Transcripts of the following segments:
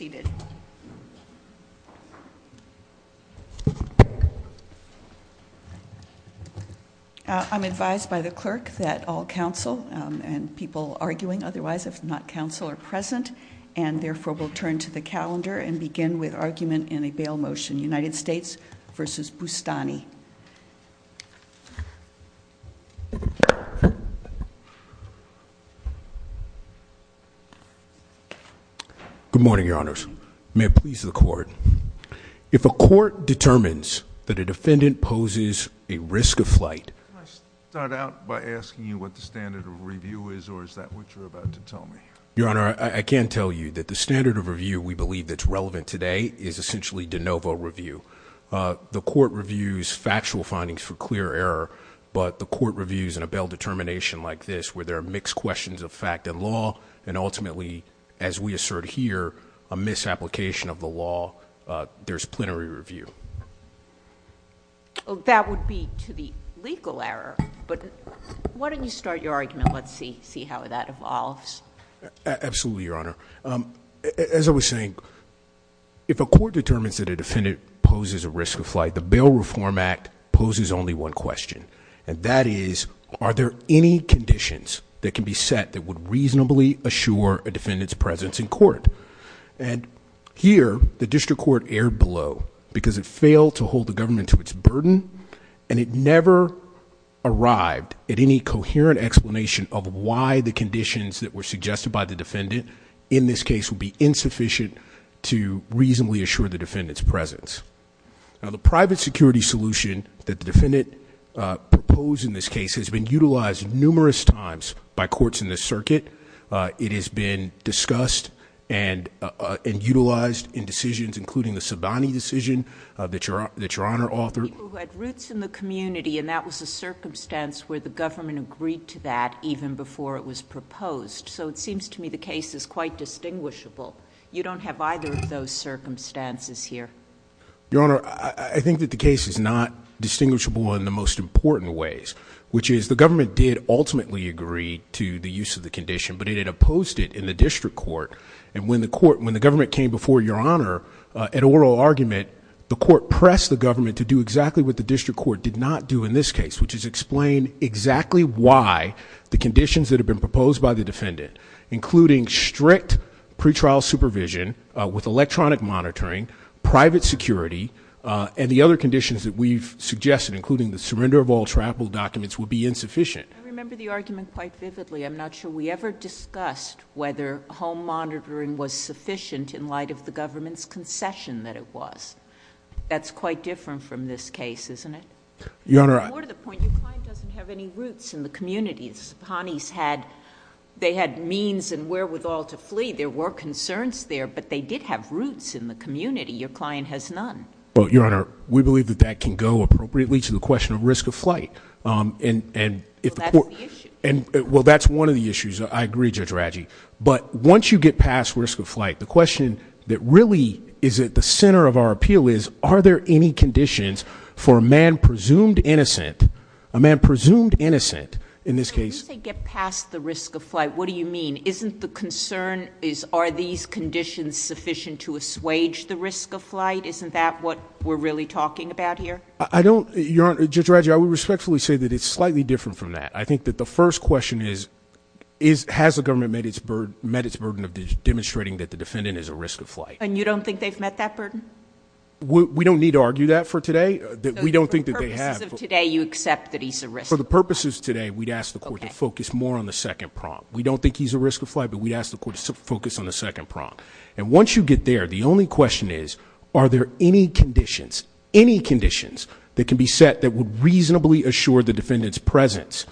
I am advised by the clerk that all counsel and people arguing otherwise if not counsel are present and therefore will turn to the calendar and begin with argument in a bail motion. United States v. Boustany. Good morning, Your Honors. May it please the Court. If a court determines that a defendant poses a risk of flight. Can I start out by asking you what the standard of review is or is that what you're about to tell me? Your Honor, I can tell you that the standard of review we believe that's relevant today is essentially de novo review. The court reviews factual findings for clear error, but the court reviews in a bail determination like this where there are mixed questions of fact and law and ultimately as we assert here a misapplication of the law, there's a plenary review. That would be to the legal error, but why don't you start your argument and let's see how that evolves. Absolutely, Your Honor. As I was saying, if a court determines that a defendant poses a risk of flight, the Bail Reform Act poses only one question and that is are there any conditions that can be set that would reasonably assure a defendant's presence in court? Here the district court erred below because it failed to hold the government to its burden and it never arrived at any coherent explanation of why the conditions that were suggested by the defendant in this case would be insufficient to reasonably assure the defendant's presence. Now the private security solution that the defendant proposed in this case has been utilized numerous times by courts in this circuit. It has been discussed and utilized in decisions including the Sabani decision that Your Honor authored. People who had roots in the community and that was a circumstance where the government agreed to that even before it was proposed. So it seems to me the case is quite distinguishable. You don't have either of those circumstances here. Your Honor, I think that the case is not distinguishable in the most important ways, which is the government did ultimately agree to the use of the condition, but it had opposed it in the district court and when the government came before Your Honor at oral argument, the court pressed the government to do exactly what the district court did not do in this case, which is explain exactly why the conditions that have been proposed by the defendant, including strict pretrial supervision with electronic monitoring, private security, and the other conditions that we've suggested including the surrender of all travel documents would be insufficient. I remember the argument quite vividly. I'm not sure we ever discussed whether home monitoring was sufficient in light of the government's concession that it was. That's quite different from this case, isn't it? Your Honor, I... There were concerns in the communities. The Pawnees had... They had means and wherewithal to flee. There were concerns there, but they did have roots in the community. Your client has none. Well, Your Honor, we believe that that can go appropriately to the question of risk of flight and if the court... Well, that's the issue. And... Well, that's one of the issues. I agree, Judge Radji, but once you get past risk of flight, the question that really is at the center of our appeal is, are there any conditions for a man presumed innocent, a man presumed innocent in this case... When you say get past the risk of flight, what do you mean? Isn't the concern is, are these conditions sufficient to assuage the risk of flight? Isn't that what we're really talking about here? I don't... Your Honor, Judge Radji, I would respectfully say that it's slightly different from that. I think that the first question is, has the government met its burden of demonstrating that the defendant is at risk of flight? And you don't think they've met that burden? We don't need to argue that for today. We don't think that they have. For the purposes of today, you accept that he's at risk of flight? For the purposes today, we'd ask the court to focus more on the second prompt. We don't think he's at risk of flight, but we ask the court to focus on the second prompt. And once you get there, the only question is, are there any conditions, any conditions that can be set that would reasonably assure the defendant's presence?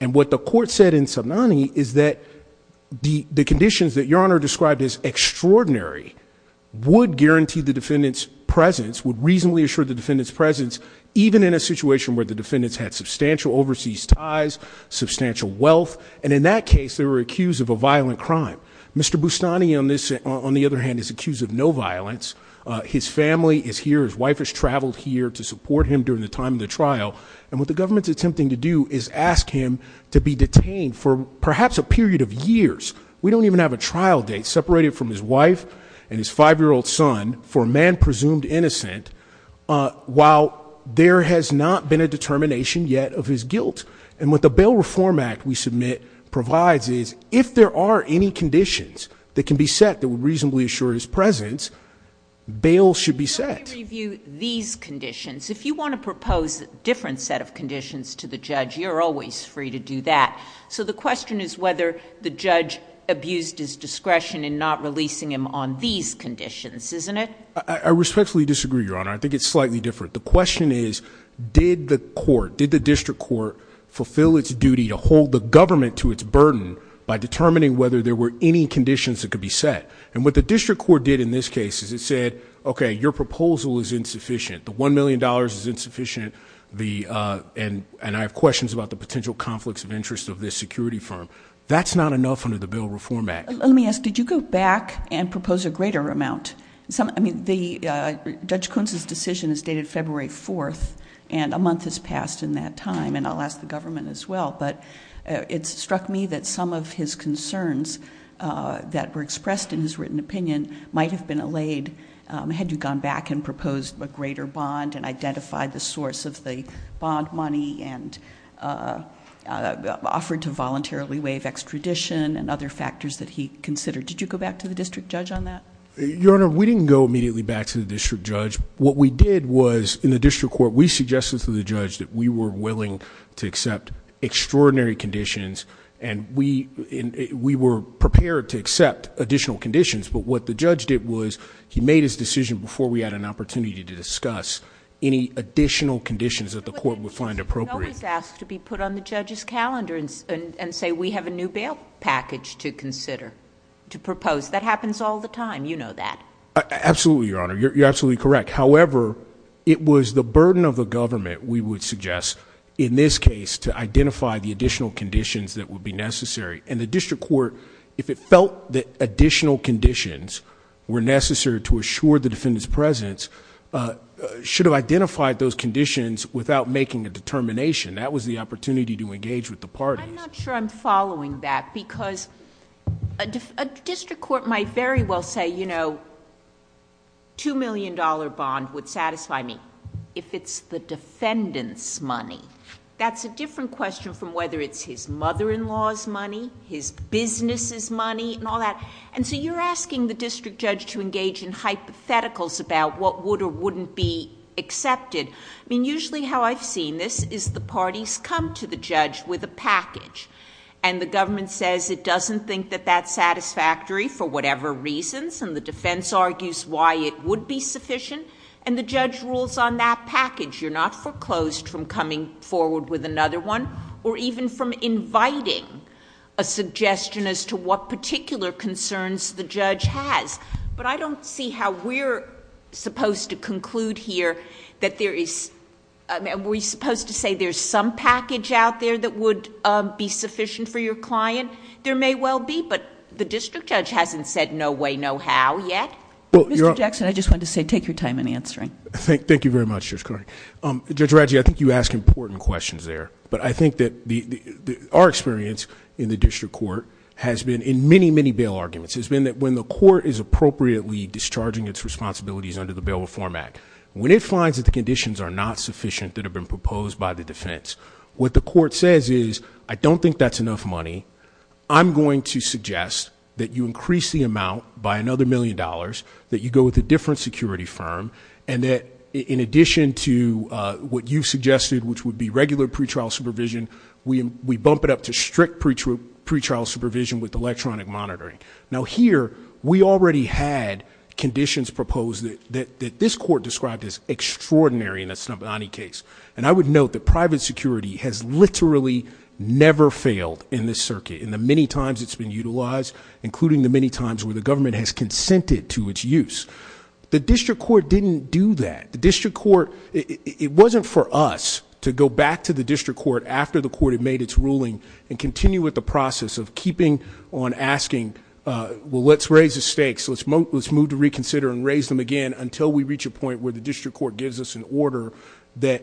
And what the court said in Somnani is that the conditions that Your Honor described as extraordinary would guarantee the defendant's presence, would reasonably assure the defendant's presence. And that's a situation where the defendants had substantial overseas ties, substantial wealth. And in that case, they were accused of a violent crime. Mr. Bustani, on the other hand, is accused of no violence. His family is here, his wife has traveled here to support him during the time of the trial. And what the government's attempting to do is ask him to be detained for perhaps a period of years. We don't even have a trial date separated from his wife and his five-year-old son for a man presumed innocent, while there has not been a determination yet of his guilt. And what the Bail Reform Act, we submit, provides is, if there are any conditions that can be set that would reasonably assure his presence, bail should be set. Let me review these conditions. If you want to propose a different set of conditions to the judge, you're always free to do that. So the question is whether the judge abused his discretion in not releasing him on these conditions, isn't it? I respectfully disagree, Your Honor. I think it's slightly different. The question is, did the court, did the district court, fulfill its duty to hold the government to its burden by determining whether there were any conditions that could be set? And what the district court did in this case is it said, okay, your proposal is insufficient. The $1 million is insufficient, and I have questions about the potential conflicts of interest of this security firm. That's not enough under the Bail Reform Act. Let me ask, did you go back and propose a greater amount? I mean, Judge Kuntz's decision is dated February 4th, and a month has passed in that time, and I'll ask the government as well, but it struck me that some of his concerns that were expressed in his written opinion might have been allayed had you gone back and proposed a greater bond and identified the source of the bond money and offered to voluntarily waive extradition and other factors that he considered. Did you go back to the district judge on that? Your Honor, we didn't go immediately back to the district judge. What we did was, in the district court, we suggested to the judge that we were willing to accept extraordinary conditions, and we were prepared to accept additional conditions, but what the judge did was he made his decision before we had an opportunity to discuss any additional conditions that the court would find appropriate. I was asked to be put on the judge's calendar and say, we have a new bail package to consider, to propose. That happens all the time. You know that. Absolutely, Your Honor. You're absolutely correct. However, it was the burden of the government, we would suggest, in this case, to identify the additional conditions that would be necessary, and the district court, if it felt that additional conditions were necessary to assure the defendant's presence, should have identified those conditions without making a determination. That was the opportunity to engage with the parties. I'm not sure I'm following that, because a district court might very well say, you know, two million dollar bond would satisfy me, if it's the defendant's money. That's a different question from whether it's his mother-in-law's money, his business's money, and all that. You're asking the district judge to engage in hypotheticals about what would or wouldn't be accepted. I mean, usually how I've seen this is the parties come to the judge with a package, and the government says it doesn't think that that's satisfactory for whatever reason, and the defense argues why it would be sufficient, and the judge rules on that package. You're not foreclosed from coming forward with another one, or even from inviting a suggestion as to what particular concerns the judge has. But I don't see how we're supposed to conclude here that there is... I mean, are we supposed to say there's some package out there that would be sufficient for your client? There may well be, but the district judge hasn't said no way, no how yet. Mr. Jackson, I just wanted to say, take your time in answering. Thank you very much, Judge Connery. Judge Radji, I think you ask important questions there, but I think that our experience in the district court has been in many, many bail arguments, has been that when the court is appropriately discharging its responsibilities under the Bail Reform Act, when it finds that the conditions are not sufficient that have been proposed by the defense, what the court says is, I don't think that's enough money. I'm going to suggest that you increase the amount by another million dollars, that you go with a different security firm, and that in addition to what you suggested, which would be regular pretrial supervision, we bump it up to strict pretrial supervision with electronic monitoring. Now here, we already had conditions proposed that this court described as extraordinary in the Snobbani case, and I would note that private security has literally never failed in this circuit, in the many times it's been utilized, including the many times where the government has consented to its use. The district court didn't do that. The district court, it wasn't for us to go back to the district court after the court had made its ruling, and continue with the process of keeping on asking, well, let's raise the stakes, let's move to reconsider and raise them again, until we reach a point where the district court gives us an order that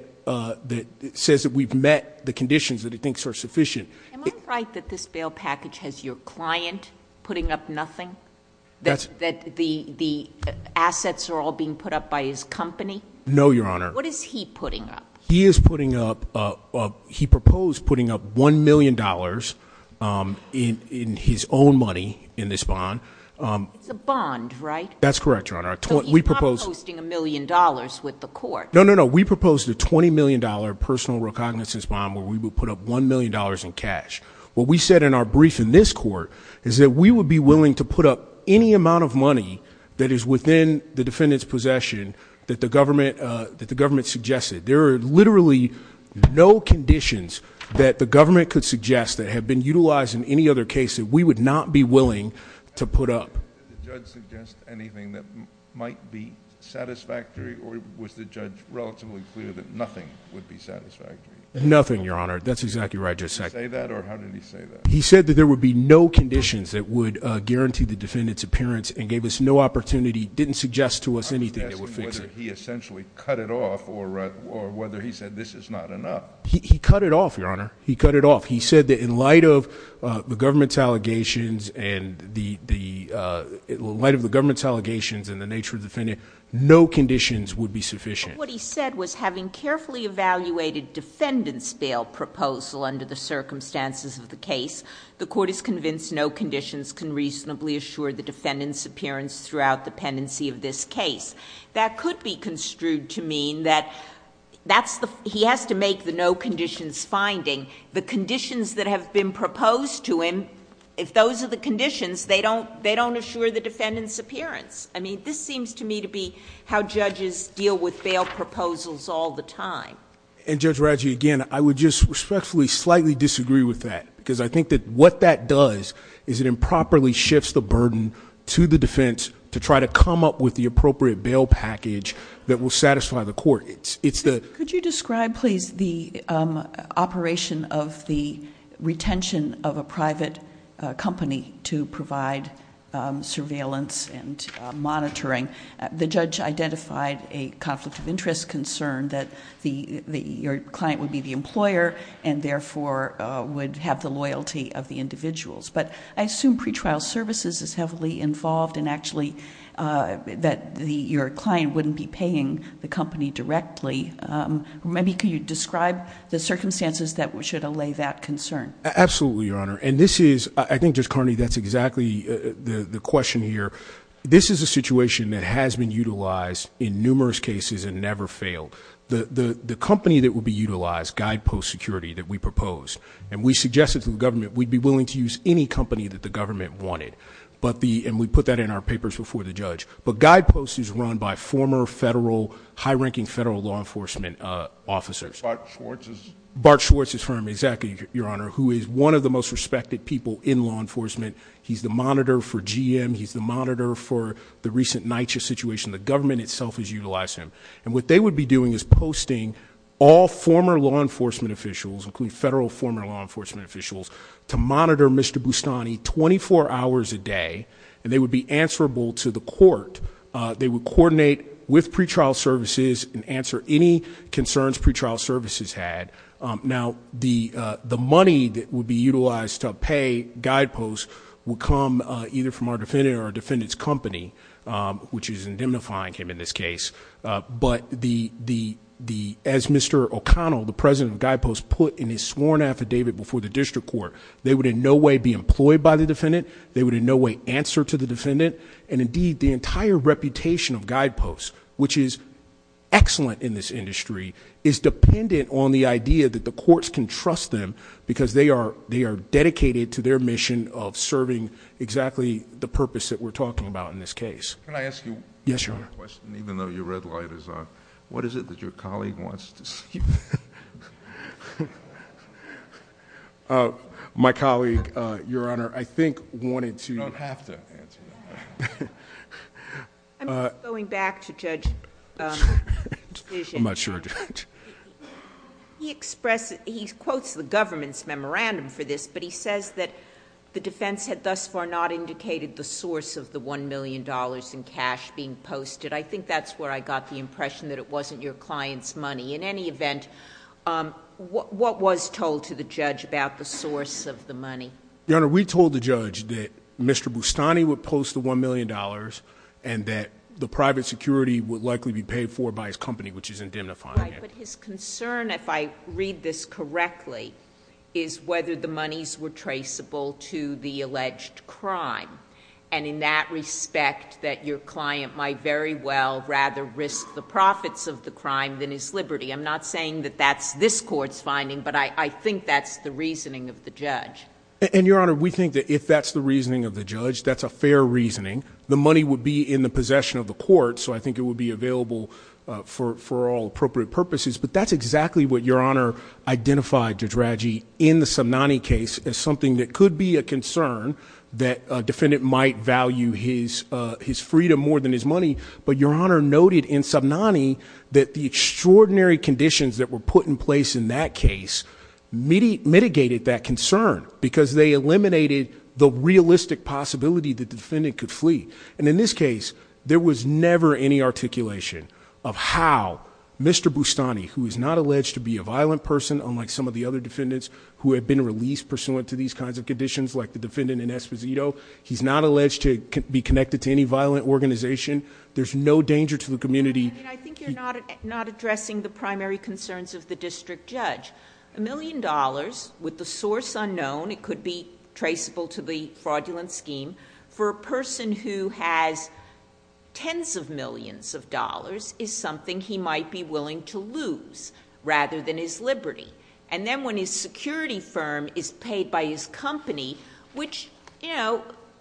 says that we've met the conditions that it thinks are sufficient. Am I right that this bail package has your client putting up nothing? That the assets are all being put up by his company? No, Your Honor. What is he putting up? He is putting up, he proposed putting up $1 million in his own money in this bond. It's a bond, right? That's correct, Your Honor. But he's not posting a million dollars with the court. No, no, no. We proposed a $20 million personal recognizance bond where we would put up $1 million in cash. What we said in our brief in this court is that we would be willing to put up any amount of money that is within the defendant's possession that the government suggested. There are literally no conditions that the government could suggest that have been utilized in any other case that we would not be willing to put up. Did the judge suggest anything that might be satisfactory, or was the judge relatively clear that nothing would be satisfactory? Nothing, Your Honor. That's exactly what I just said. Did he say that, or how did he say that? He said that there would be no conditions that would guarantee the defendant's appearance and gave us no opportunity, didn't suggest to us anything that would fix it. Did he essentially cut it off, or whether he said this is not enough? He cut it off, Your Honor. He cut it off. He said that in light of the government's allegations and the nature of the defendant, no conditions would be sufficient. What he said was having carefully evaluated defendant's bail proposal under the circumstances of the case, the court is convinced no conditions can reasonably assure the defendant's appearance throughout the pendency of this case. That could be construed to mean that he has to make the no conditions finding. The conditions that have been proposed to him, if those are the conditions, they don't assure the defendant's appearance. I mean, this seems to me to be how judges deal with bail proposals all the time. Judge Rodger, again, I would just respectfully slightly disagree with that, because I think that what that does is it improperly shifts the burden to the defense to try to come up with the appropriate bail package that will satisfy the court. Could you describe, please, the operation of the retention of a private company to provide surveillance and monitoring? The judge identified a conflict of interest concern that your client would be the employer and therefore would have the loyalty of the individuals, but I assume pretrial services is heavily involved and actually that your client wouldn't be paying the company directly. Maybe could you describe the circumstances that should allay that concern? Absolutely, Your Honor. And this is, I think Judge Carney, that's exactly the question here. This is a situation that has been utilized in numerous cases and never failed. The company that would be utilized, Guidepost Security, that we proposed, and we suggested to the government, we'd be willing to use any company that the government wanted, and we put that in our papers before the judge, but Guidepost is run by former federal, high-ranking federal law enforcement officers. Bart Schwartz? Bart Schwartz is from, exactly, Your Honor, who is one of the most respected people in law enforcement. He's the monitor for GM, he's the monitor for the recent NYCHA situation. The government itself has utilized him, and what they would be doing is posting all former law enforcement officials, including federal former law enforcement officials, to monitor Mr. Boustany 24 hours a day, and they would be answerable to the court. They would coordinate with pretrial services and answer any concerns pretrial services had. Now, the money that would be utilized to pay Guidepost would come either from our defendant or our defendant's company, which is indemnifying him in this case, but as Mr. O'Connell, the president of Guidepost, put in his sworn affidavit before the district court, they would in no way be employed by the defendant, they would in no way answer to the defendant, and indeed, the entire reputation of Guidepost, which is excellent in this industry, is dependent on the idea that the courts can trust them because they are dedicated to their mission of serving exactly the purpose that we're talking about in this case. Yes, Your Honor. Your red light is on. What is it that your colleague wants to see? My colleague, Your Honor, I think wanted to... Oh, half a second. I'm going back to Judge... I'm not sure. He expressed... he quotes the government's memorandum for this, but he says that the defense had thus far not indicated the source of the $1 million in cash being posted. I think that's where I got the impression that it wasn't your client's money. In any event, what was told to the judge about the source of the money? Your Honor, we told the judge that Mr. Boustany would post the $1 million and that the private security would likely be paid for by his company, which he's identifying as. Right, but his concern, if I read this correctly, is whether the monies were traceable to the defendant. I'm not saying that that's this court's finding, but I think that's the reasoning of the judge. And Your Honor, we think that if that's the reasoning of the judge, that's a fair reasoning. The money would be in the possession of the court, so I think it would be available for all appropriate purposes, but that's exactly what Your Honor identified, Judge Radji, in the Somnani case as something that could be a concern, that a defendant might value his Your Honor noted in Somnani that the extraordinary conditions that were put in place in that case mitigated that concern because they eliminated the realistic possibility that the defendant could flee. And in this case, there was never any articulation of how Mr. Boustany, who is not alleged to be a violent person, unlike some of the other defendants who have been released pursuant to these kinds of conditions, like the defendant in Esposito, he's not alleged to be connected to any violent organization. There's no danger to the community. I think you're not addressing the primary concerns of the district judge. A million dollars, with the source unknown, it could be traceable to the fraudulent scheme, for a person who has tens of millions of dollars is something he might be willing to lose rather than his liberty. And then when his security firm is paid by his company, which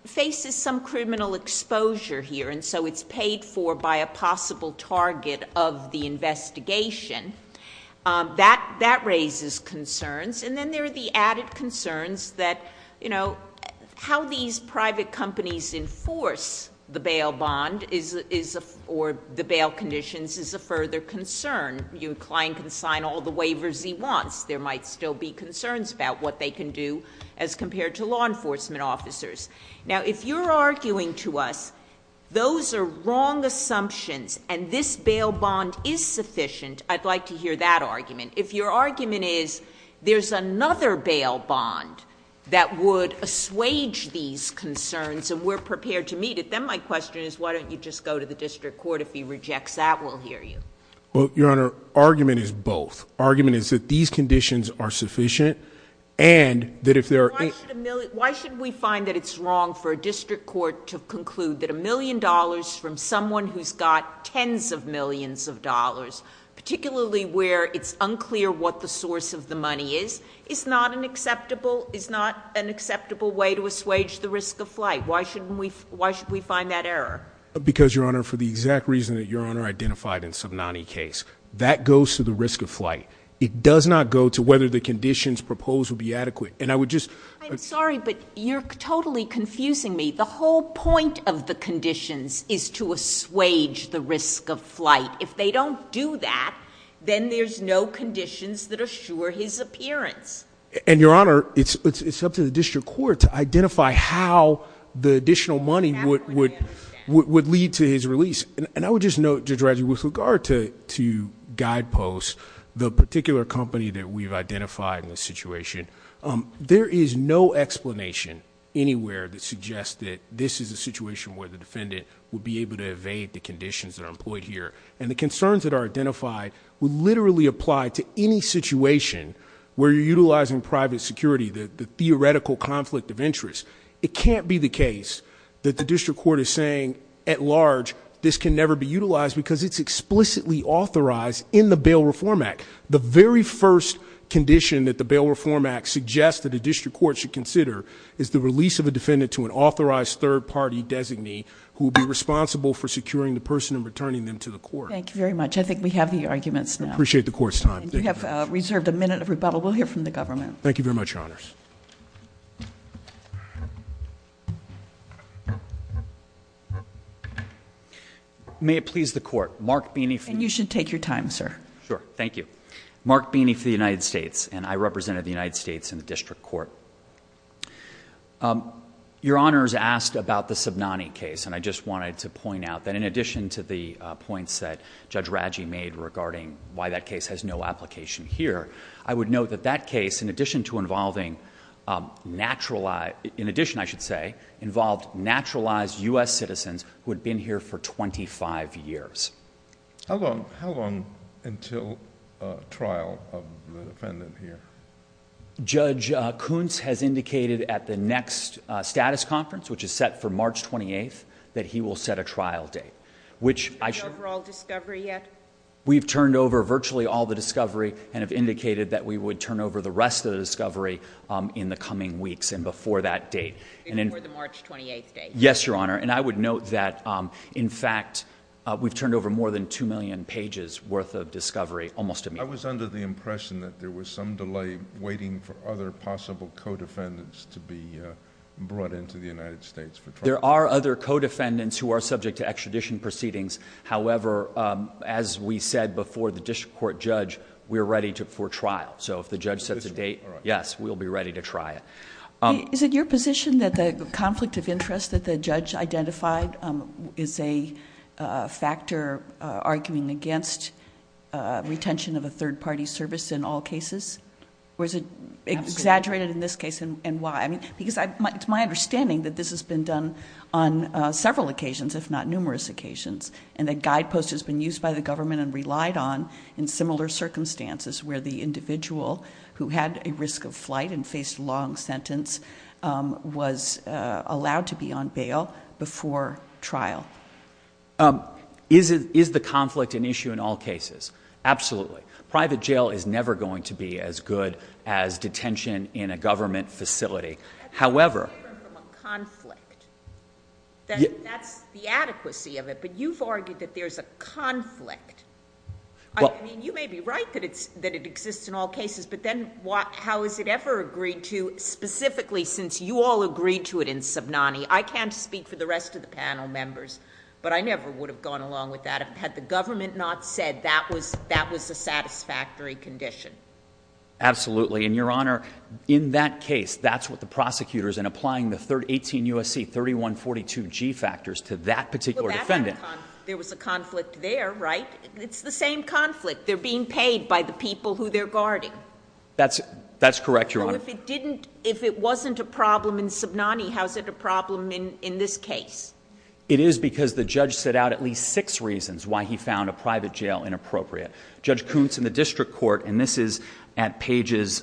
faces some criminal exposure here, and so it's paid for by a possible target of the investigation, that raises concerns. And then there are the added concerns that, you know, how these private companies enforce the bail bond or the bail conditions is a further concern. Your client can sign all the waivers he wants. There might still be concerns about what they can do as compared to law enforcement officers. Now, if you're arguing to us, those are wrong assumptions and this bail bond is sufficient, I'd like to hear that argument. If your argument is there's another bail bond that would assuage these concerns and we're prepared to meet it, then my question is, why don't you just go to the district court if he rejects that? We'll hear you. Well, Your Honor, argument is both. Why should we find that it's wrong for a district court to conclude that a million dollars from someone who's got tens of millions of dollars, particularly where it's unclear what the source of the money is, is not an acceptable way to assuage the risk of flight? Why should we find that error? Because Your Honor, for the exact reason that Your Honor identified in Subnani's case, that goes to the risk of flight. It does not go to whether the conditions proposed would be adequate. I'm sorry, but you're totally confusing me. The whole point of the conditions is to assuage the risk of flight. If they don't do that, then there's no conditions that assure his appearance. And Your Honor, it's up to the district court to identify how the additional money would lead to his release. And I would just note, Judge Radley, with regard to guideposts, the particular company that we've identified in this situation, there is no explanation anywhere that suggests that this is a situation where the defendant would be able to evade the conditions that are employed here. And the concerns that are identified would literally apply to any situation where you're utilizing private security, the theoretical conflict of interest. It can't be the case that the district court is saying, at large, this can never be utilized because it's explicitly authorized in the Bail Reform Act. The very first condition that the Bail Reform Act suggests that the district court should consider is the release of a defendant to an authorized third-party designee who would be responsible for securing the person and returning them to the court. Thank you very much. I think we have the arguments now. I appreciate the court's time. And you have reserved a minute of rebuttal. We'll hear from the government. Thank you very much, Your Honors. Mark Beeney. And you should take your time, sir. Sure. Thank you. Mark Beeney for the United States. And I represented the United States in the district court. Your Honors asked about the Subnani case, and I just wanted to point out that in addition to the points that Judge Raggi made regarding why that case has no application here, I would note that that case, in addition to involving naturalized—in addition, I should say, involved naturalized U.S. citizens who had been here for 25 years. How long until trial of the defendant here? Judge Kuntz has indicated at the next status conference, which is set for March 28th, that he will set a trial date, which I should— Do you know the overall discovery yet? We've turned over virtually all the discovery and have indicated that we would turn over the rest of the discovery in the coming weeks and before that date. And then— Before the March 28th date. Yes, Your Honor. And I would note that, in fact, we've turned over more than 2 million pages' worth of discovery almost immediately. I was under the impression that there was some delay waiting for other possible co-defendants to be brought into the United States for trial. There are other co-defendants who are subject to extradition proceedings. However, as we said before the district court judge, we are ready for trial. So if the judge sets a date, yes, we'll be ready to try it. Is it your position that the conflict of interest that the judge identified is a factor arguing against retention of a third-party service in all cases? Or is it exaggerated in this case and why? Because it's my understanding that this has been done on several occasions, if not numerous occasions, and a guidepost has been used by the government and relied on in similar circumstances where the individual who had a risk of flight and faced a long sentence was allowed to be on bail before trial. Is the conflict an issue in all cases? Absolutely. Private jail is never going to be as good as detention in a government facility. However— That's the adequacy of it, but you've argued that there's a conflict. I mean, you may be right that it exists in all cases, but then how is it ever agreed to specifically since you all agreed to it in Subnani? I can't speak for the rest of the panel members, but I never would have gone along with that had the government not said that was a satisfactory condition. Absolutely. And, Your Honor, in that case, that's what the prosecutor's in applying the 18 U.S.C. 3142G factors to that particular defendant. There was a conflict there, right? It's the same conflict. They're being paid by the people who they're guarding. That's correct, Your Honor. If it wasn't a problem in Subnani, how is it a problem in this case? It is because the judge set out at least six reasons why he found a private jail inappropriate. Judge Kuntz in the district court, and this is at pages,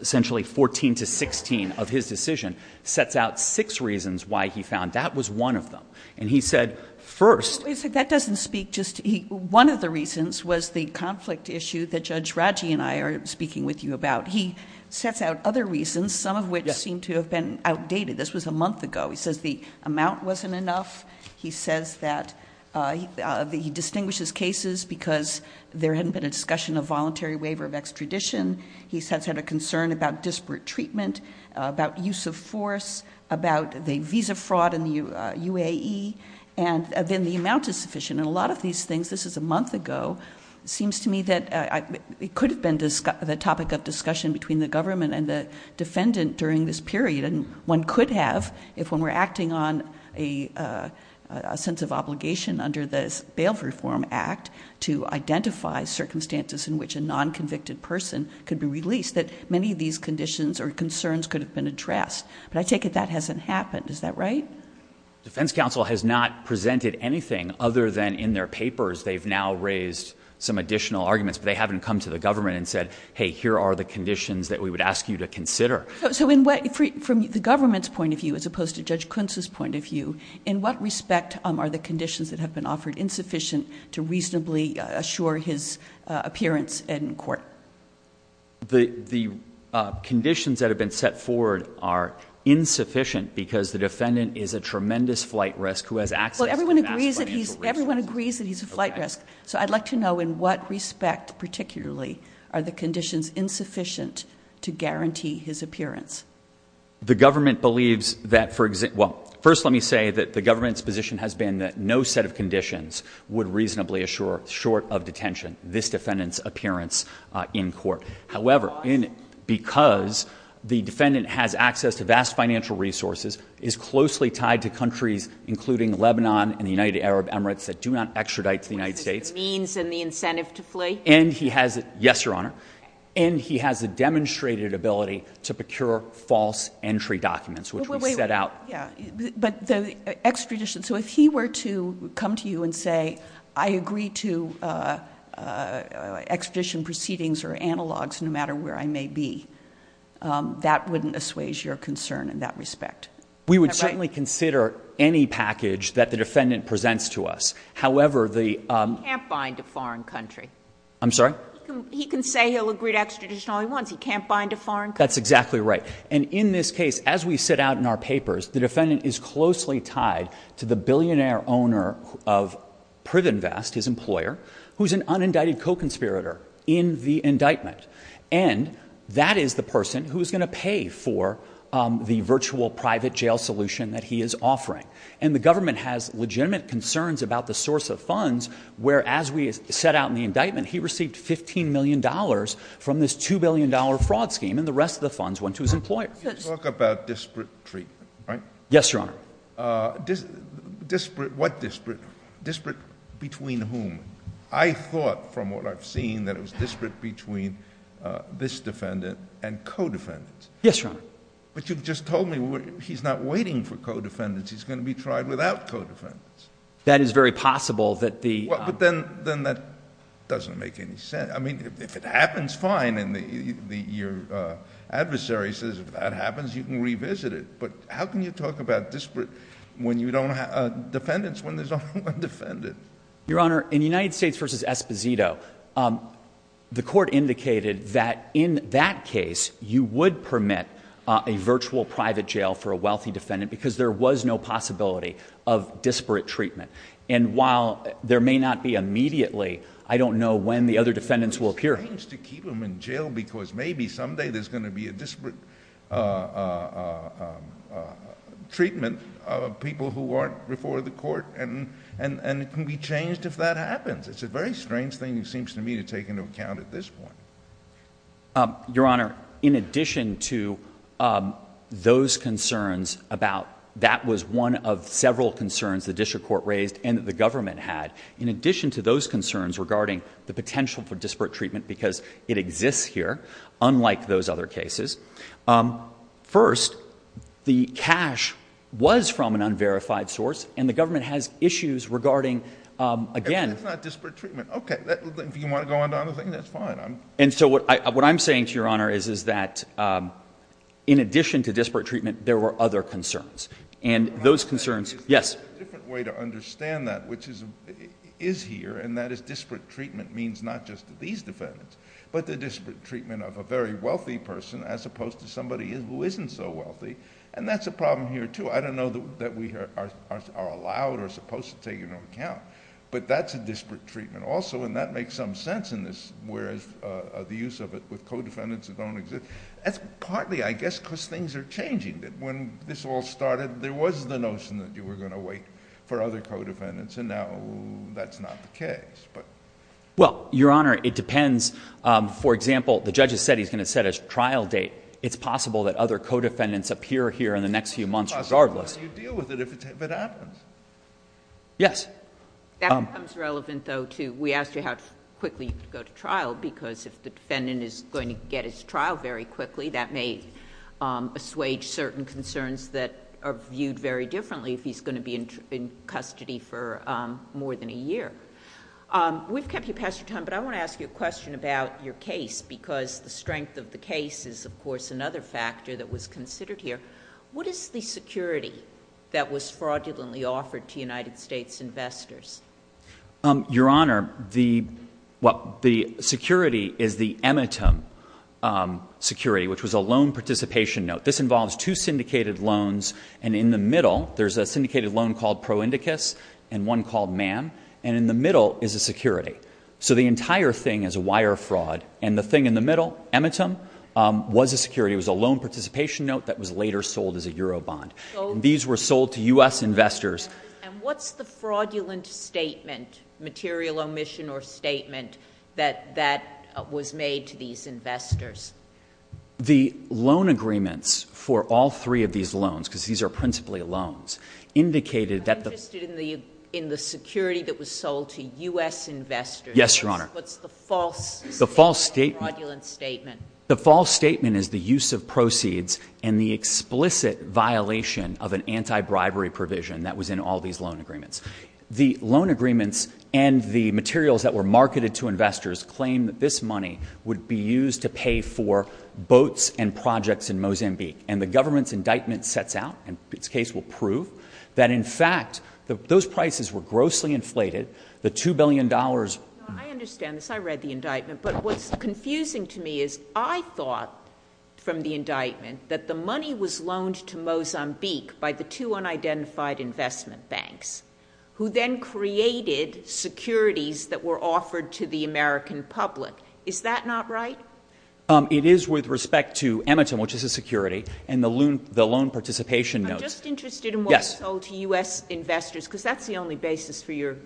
essentially, 14 to 16 of his decision, sets out six reasons why he found that was one of them. And he said, first... If that doesn't speak, just one of the reasons was the conflict issue that Judge Raji and I are speaking with you about. He sets out other reasons, some of which seem to have been outdated. This was a month ago. He says the amount wasn't enough. He says that he distinguishes cases because there hadn't been a discussion of voluntary waiver of extradition. He said he had a concern about disparate treatment, about use of force, about the visa fraud in the UAE, and then the amount is sufficient. And a lot of these things, this is a month ago, it seems to me that it could have been the topic of discussion between the government and the defendant during this period. And one could have, if when we're acting on a sense of obligation under the Bail Reform Act to identify circumstances in which a non-convicted person could be released, that many of these conditions or concerns could have been addressed. But I take it that hasn't happened. Is that right? The defense counsel has not presented anything other than in their papers they've now raised some additional arguments. They haven't come to the government and said, hey, here are the conditions that we would ask you to consider. So in what, from the government's point of view as opposed to Judge Klintz's point of view, in what respect are the conditions that have been offered insufficient to reasonably assure his appearance in court? The conditions that have been set forward are insufficient because the defendant is a tremendous flight risk who has access to that flight. Well, everyone agrees that he's a flight risk, so I'd like to know in what respect particularly are the conditions insufficient to guarantee his appearance? The government believes that, well, first let me say that the government's position has been that no set of conditions would reasonably assure, short of detention, this defendant's appearance in court. However, because the defendant has access to vast financial resources, is closely tied to countries including Lebanon and the United Arab Emirates that do not extradite to the United States. And the means and the incentive to flee? And he has, yes, Your Honor, and he has a demonstrated ability to procure false entry documents which were set out. But the extradition, so if he were to come to you and say, I agree to extradition proceedings or analogs no matter where I may be, that wouldn't assuage your concern in that respect? We would certainly consider any package that the defendant presents to us. However, the... He can't find a foreign country. I'm sorry? He can say he'll agree to extradition all he wants, he can't find a foreign country. That's exactly right. And in this case, as we set out in our papers, the defendant is closely tied to the billionaire owner of Privinvest, his employer, who's an unindicted co-conspirator in the indictment. And that is the person who's going to pay for the virtual private jail solution that he is offering. And the government has legitimate concerns about the source of funds where, as we set out in the indictment, he received $15 million from this $2 billion fraud scheme and the point... You talk about disparate treatment, right? Yes, Your Honor. Disparate, what disparate? Disparate between whom? I thought from what I've seen that it was disparate between this defendant and co-defendants. Yes, Your Honor. But you just told me he's not waiting for co-defendants, he's going to be tried without co-defendants. That is very possible that the... Well, but then that doesn't make any sense. I mean, if it happens, fine, and your adversary says, if that happens, you can revisit it. But how can you talk about disparate when you don't have... Defendants when there's only one defendant? Your Honor, in United States v. Esposito, the court indicated that in that case, you would permit a virtual private jail for a wealthy defendant because there was no possibility of disparate treatment. And while there may not be immediately, I don't know when the other defendants will appear. It seems to keep them in jail because maybe someday there's going to be a disparate treatment of people who aren't before the court, and it can be changed if that happens. It's a very strange thing, it seems to me, to take into account at this point. Your Honor, in addition to those concerns about... And that the government had, in addition to those concerns regarding the potential for disparate treatment because it exists here, unlike those other cases, first, the cash was from an unverified source, and the government has issues regarding, again... That's not disparate treatment. Okay. Do you want to go on to another thing? That's fine. And so what I'm saying to Your Honor is that in addition to disparate treatment, there were other concerns. And those concerns... Yes. There's a different way to understand that, which is here, and that is disparate treatment means not just to these defendants, but the disparate treatment of a very wealthy person as opposed to somebody who isn't so wealthy. And that's a problem here too. I don't know that we are allowed or supposed to take it into account, but that's a disparate treatment also, and that makes some sense in this, whereas the use of it with co-defendants that don't exist. That's partly, I guess, because things are changing. When this all started, there was the notion that you were going to wait for other co-defendants, and now that's not the case. Well, Your Honor, it depends. For example, the judge has said he's going to set a trial date. It's possible that other co-defendants appear here in the next few months regardless. It's possible that you deal with it if it happens. Yes. That becomes relevant though too. We asked you how quickly you could go to trial, because if the defendant is going to get his case, he's going to have certain concerns that are viewed very differently if he's going to be in custody for more than a year. We've kept you past your time, but I want to ask you a question about your case, because the strength of the case is, of course, another factor that was considered here. What is the security that was fraudulently offered to United States investors? Your Honor, the security is the emetem security, which was a loan participation note. This involves two syndicated loans, and in the middle, there's a syndicated loan called Pro Indicus and one called MAM, and in the middle is a security. So the entire thing is wire fraud, and the thing in the middle, emetem, was a security. It was a loan participation note that was later sold as a Euro bond. These were sold to U.S. investors. And what's the fraudulent statement, material omission or statement, that was made to these investors? The loan agreements for all three of these loans, because these are principally loans, indicated that the— I'm interested in the security that was sold to U.S. investors. Yes, Your Honor. What's the false statement? The false statement— Fraudulent statement. The false statement is the use of proceeds and the explicit violation of an anti-bribery provision that was in all these loan agreements. The loan agreements and the materials that were marketed to investors claim that this was for boats and projects in Mozambique. And the government's indictment sets out, and this case will prove, that in fact those prices were grossly inflated. The $2 billion— I understand this. I read the indictment. But what's confusing to me is I thought from the indictment that the money was loaned to Mozambique by the two unidentified investment banks, who then created securities that were offered to the American public. Is that not right? It is with respect to Emington, which is a security, and the loan participation notes. I'm just interested in what was sold to U.S. investors, because that's the only basis for your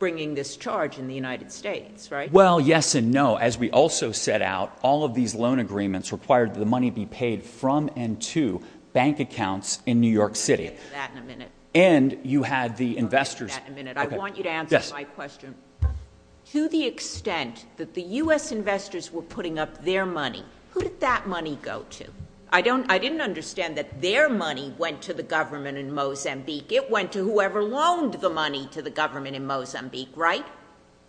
bringing this charge in the United States, right? Well, yes and no. As we also set out, all of these loan agreements required that the money be paid from and to bank accounts in New York City. We'll get to that in a minute. And you had the investors— I'll get to that in a minute. I want you to answer my question. Yes. To the extent that the U.S. investors were putting up their money, who did that money go to? I didn't understand that their money went to the government in Mozambique. It went to whoever loaned the money to the government in Mozambique, right?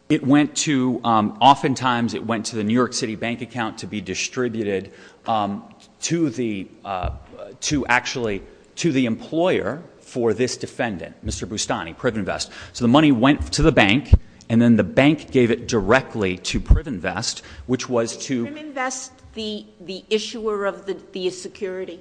It went to—oftentimes it went to the New York City bank account to be distributed to the—to actually—to the employer for this defendant, Mr. Boustany, Cribb Invest. So the money went to the bank, and then the bank gave it directly to Cribb Invest, which Was Cribb Invest the issuer of the security?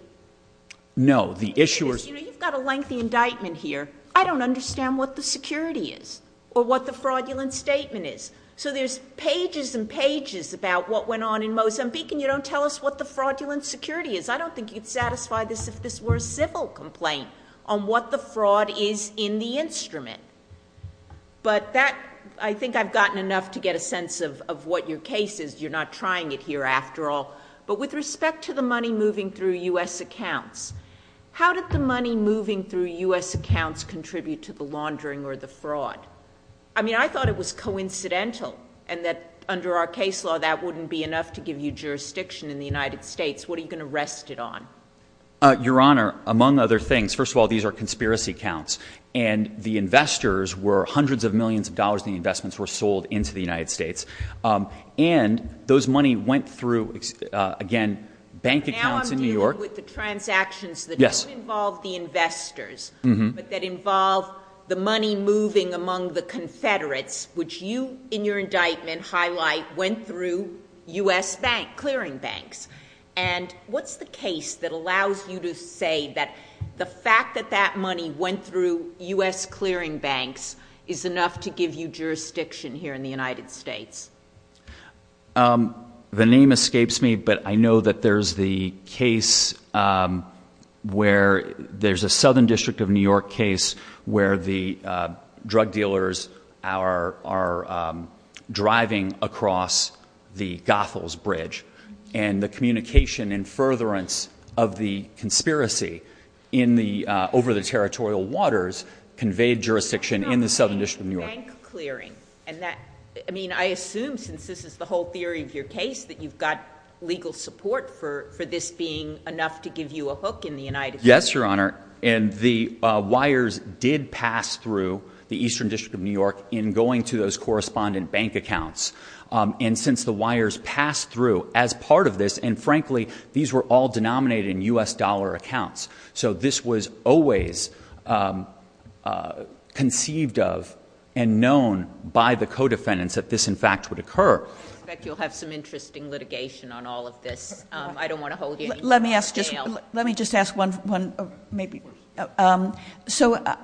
No, the issuer— You've got a lengthy indictment here. I don't understand what the security is or what the fraudulent statement is. So there's pages and pages about what went on in Mozambique, and you don't tell us what the fraudulent security is. I don't think you'd satisfy this if this were a simple complaint on what the fraud is in the instrument. But that—I think I've gotten enough to get a sense of what your case is. You're not trying it here, after all. But with respect to the money moving through U.S. accounts, how did the money moving through U.S. accounts contribute to the laundering or the fraud? I mean, I thought it was coincidental, and that under our case law, that wouldn't be enough to give you jurisdiction in the United States. What are you going to rest it on? Your Honor, among other things, first of all, these are conspiracy accounts. And the investors were—hundreds of millions of dollars in investments were sold into the United States. And those money went through, again, bank accounts in New York— Now I'm confused with the transactions that don't involve the investors, but that involve the money moving among the Confederates, which you, in your indictment, highlight, went through U.S. bank—clearing banks. And what's the case that allows you to say that the fact that that money went through U.S. clearing banks is enough to give you jurisdiction here in the United States? The name escapes me, but I know that there's the case where—there's a Southern District of New York case where the drug dealers are driving across the Gothel's Bridge. And the communication and furtherance of the conspiracy in the—over the territorial waters conveyed jurisdiction in the Southern District of New York. Bank clearing. And that—I mean, I assume, since this is the whole theory of your case, that you've got legal support for this being enough to give you a hook in the United States. Yes, Your Honor. And the wires did pass through the Eastern District of New York in going to those correspondent bank accounts. And since the wires passed through as part of this—and frankly, these were all denominated in U.S. dollar accounts. So this was always conceived of and known by the co-defendants that this, in fact, would occur. I expect you'll have some interesting litigation on all of this. I don't want to hold you— Let me ask just—let me just ask one—maybe—so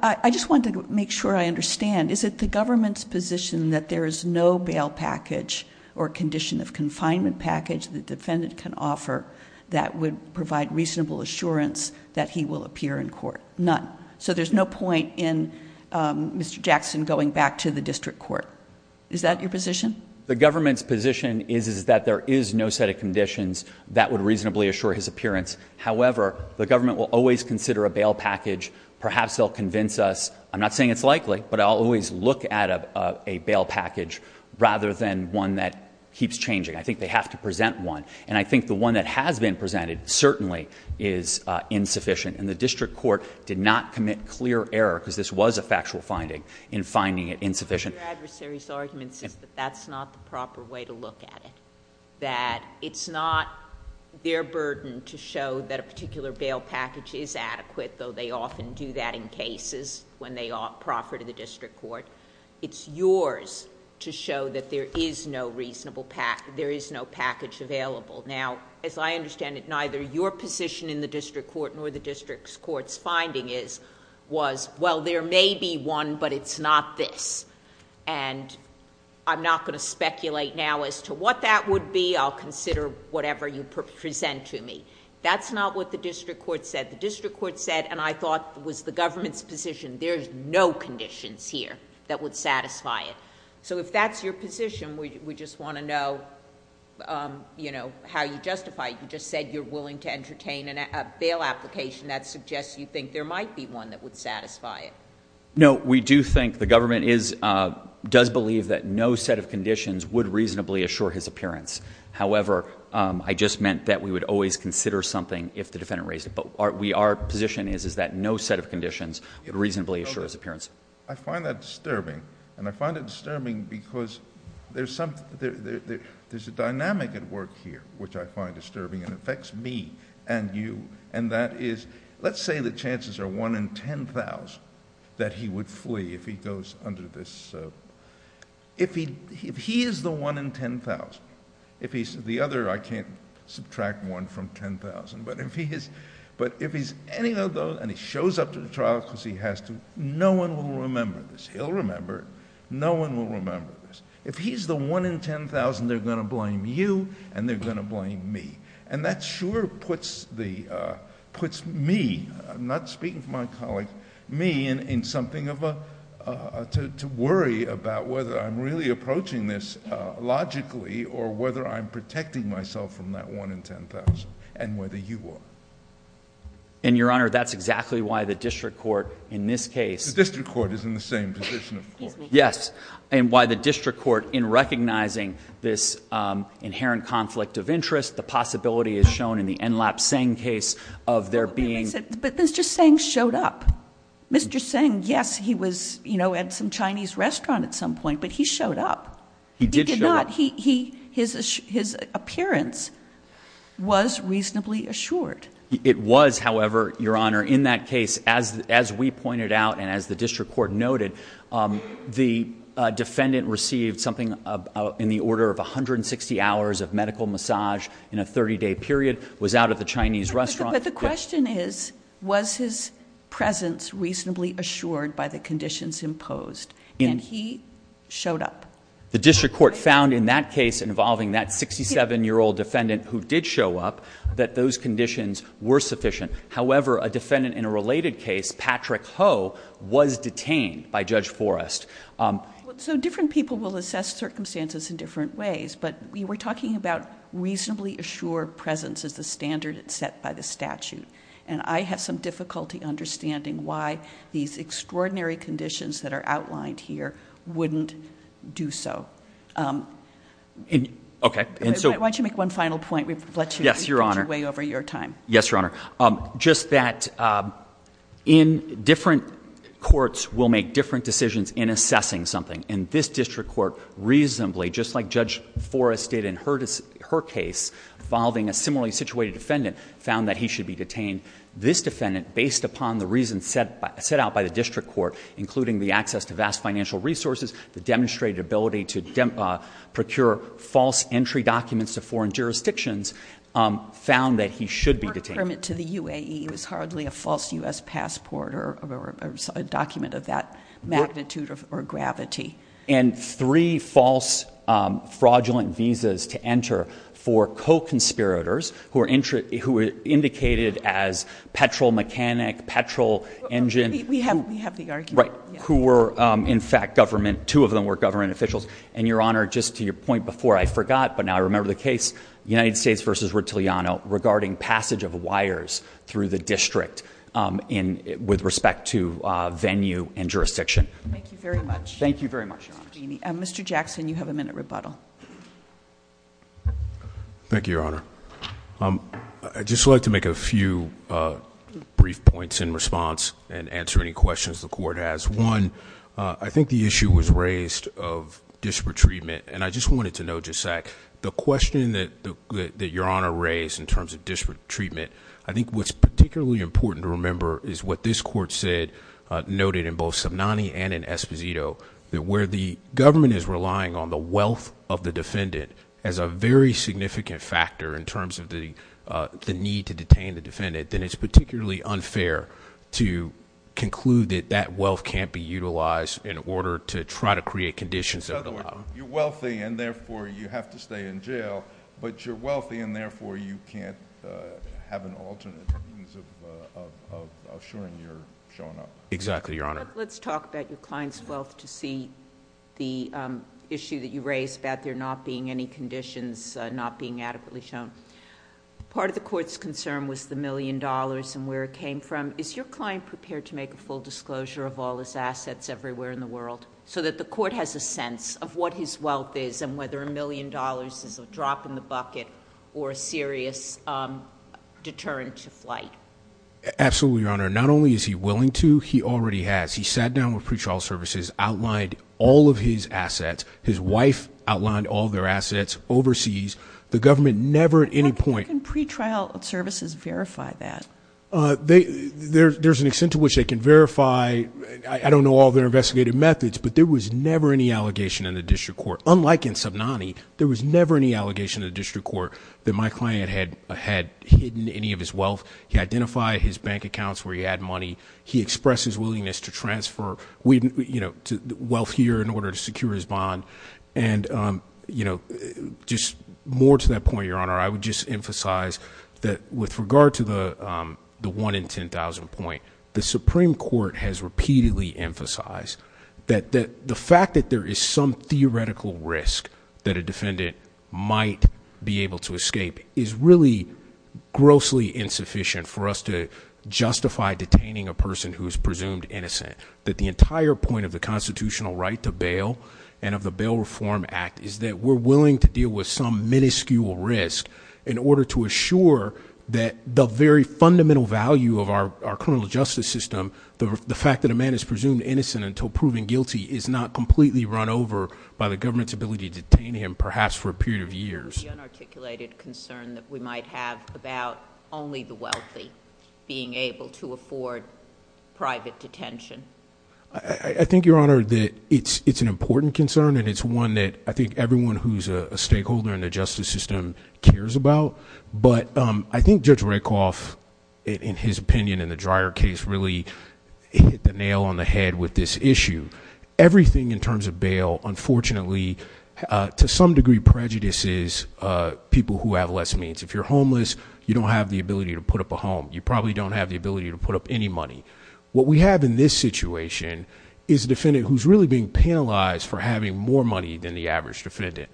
I just wanted to make sure I understand. Is it the government's position that there is no bail package or condition of confinement package the defendant can offer that would provide reasonable assurance that he will appear in court? None. So there's no point in Mr. Jackson going back to the district court. Is that your position? The government's position is that there is no set of conditions that would reasonably assure his appearance. However, the government will always consider a bail package. Perhaps they'll convince us. I'm not saying it's likely, but I'll always look at a bail package rather than one that keeps changing. I think they have to present one. And I think the one that has been presented certainly is insufficient. And the district court did not commit clear error, because this was a factual finding, in finding it insufficient. Your adversary's argument is that that's not the proper way to look at it, that it's not their burden to show that a particular bail package is adequate, though they often do that in cases when they are proper to the district court. It's yours to show that there is no reasonable... there is no package available. Now, as I understand it, neither your position in the district court nor the district court's finding is... was, well, there may be one, but it's not this. And I'm not going to speculate now as to what that would be. I'll consider whatever you present to me. That's not what the district court said. The district court said, and I thought was the government's position, there is no conditions here that would satisfy it. So if that's your position, we just want to know, you know, how you justify it. You just said you're willing to entertain a bail application. That suggests you think there might be one that would satisfy it. No. We do think the government is... does believe that no set of conditions would reasonably assure his appearance. However, I just meant that we would always consider something if the defendant raised... our position is that no set of conditions would reasonably assure his appearance. I find that disturbing. And I find it disturbing because there's some... there's a dynamic at work here which I find disturbing and affects me and you, and that is, let's say the chances are 1 in 10,000 that he would flee if he goes under this... if he is the 1 in 10,000, if he's the other... I can't subtract 1 from 10,000, but if he's... but if he's any of those and he shows up to the trial because he has to, no one will remember this. He'll remember it. No one will remember this. If he's the 1 in 10,000, they're going to blame you and they're going to blame me. And that sure puts the... puts me... I'm not speaking for my colleague, me in something of a... to worry about whether I'm really approaching this logically or whether I'm protecting myself from that 1 in 10,000 and whether you are. And, Your Honor, that's exactly why the district court in this case... The district court is in the same position. Yes. And why the district court, in recognizing this inherent conflict of interest, the possibility is shown in the Enlap-Seng case of there being... But Mr. Seng showed up. Mr. Seng, yes, he was at some Chinese restaurant at some point, but he showed up. He did show up. He did not. His appearance was reasonably assured. It was, however, Your Honor, in that case, as we pointed out and as the district court noted, the defendant received something in the order of 160 hours of medical massage in a 30-day period, was out at the Chinese restaurant. But the question is, was his presence reasonably assured by the conditions imposed? And he showed up. The district court found in that case involving that 67-year-old defendant who did show up that those conditions were sufficient. However, a defendant in a related case, Patrick Ho, was detained by Judge Forrest. So different people will assess circumstances in different ways, but we were talking about And I have some difficulty understanding why these extraordinary conditions that are outlined here wouldn't do so. Okay. Why don't you make one final point? Yes, Your Honor. We've let you get away over your time. Yes, Your Honor. Just that different courts will make different decisions in assessing something, and this district court reasonably, just like Judge Forrest did in her case involving a similarly This defendant, based upon the reasons set out by the district court, including the access to vast financial resources, the demonstrated ability to procure false entry documents to foreign jurisdictions, found that he should be detained. Her permit to the UAE was hardly a false U.S. passport or a document of that magnitude or gravity. And three false fraudulent visas to enter for co-conspirators who were indicated as petrol mechanic, petrol engine. We have the argument. Right. Who were, in fact, government. Two of them were government officials. And, Your Honor, just to your point before, I forgot, but now I remember the case, United States v. Rotiliano, regarding passage of wires through the district with respect to venue and jurisdiction. Thank you very much. Thank you very much, Your Honor. Mr. Jackson, you have a minute rebuttal. Thank you, Your Honor. I'd just like to make a few brief points in response and answer any questions the court has. One, I think the issue was raised of disparate treatment. And I just wanted to note, just a sec, the question that Your Honor raised in terms of disparate treatment, I think what's particularly important to remember is what this court said, noted in both Subnani and Esposito, that where the government is relying on the wealth of the defendant as a very significant factor in terms of the need to detain the defendant, then it's particularly unfair to conclude that that wealth can't be utilized in order to try to create conditions. You're wealthy, and therefore, you have to stay in jail. But you're wealthy, and therefore, you can't have an alternate means of assuring your wealth. Exactly, Your Honor. Let's talk about your client's wealth to see the issue that you raised about there not being any conditions not being adequately shown. Part of the court's concern was the million dollars and where it came from. Is your client prepared to make a full disclosure of all his assets everywhere in the world so that the court has a sense of what his wealth is and whether a million dollars is Absolutely, Your Honor. Not only is he willing to, he already has. He sat down with pretrial services, outlined all of his assets. His wife outlined all their assets overseas. The government never at any point... How can pretrial services verify that? There's an extent to which they can verify. I don't know all their investigative methods, but there was never any allegation in the district court. Unlike in Subnani, there was never any allegation in the district court that my client had hidden any of his wealth. He identified his bank accounts where he had money. He expressed his willingness to transfer wealth here in order to secure his bond. More to that point, Your Honor, I would just emphasize that with regard to the 1 in 10,000 point, the Supreme Court has repeatedly emphasized that the fact that there is some theoretical risk that a defendant might be able to escape is really grossly insufficient. For us to justify detaining a person who is presumed innocent, that the entire point of the constitutional right to bail and of the Bail Reform Act is that we're willing to deal with some minuscule risk in order to assure that the very fundamental value of our criminal justice system, the fact that a man is presumed innocent until proven guilty is not completely run over by the government's ability to detain him perhaps for a period of years. Is there any unarticulated concern that we might have about only the wealthy being able to afford private detention? I think, Your Honor, that it's an important concern and it's one that I think everyone who's a stakeholder in the justice system cares about, but I think Judge Redcliffe, in his opinion in the Dreyer case, really hit the nail on the head with this issue. Everything in terms of bail, unfortunately, to some degree, prejudices people who have less means. If you're homeless, you don't have the ability to put up a home. You probably don't have the ability to put up any money. What we have in this situation is a defendant who's really being penalized for having more money than the average defendant,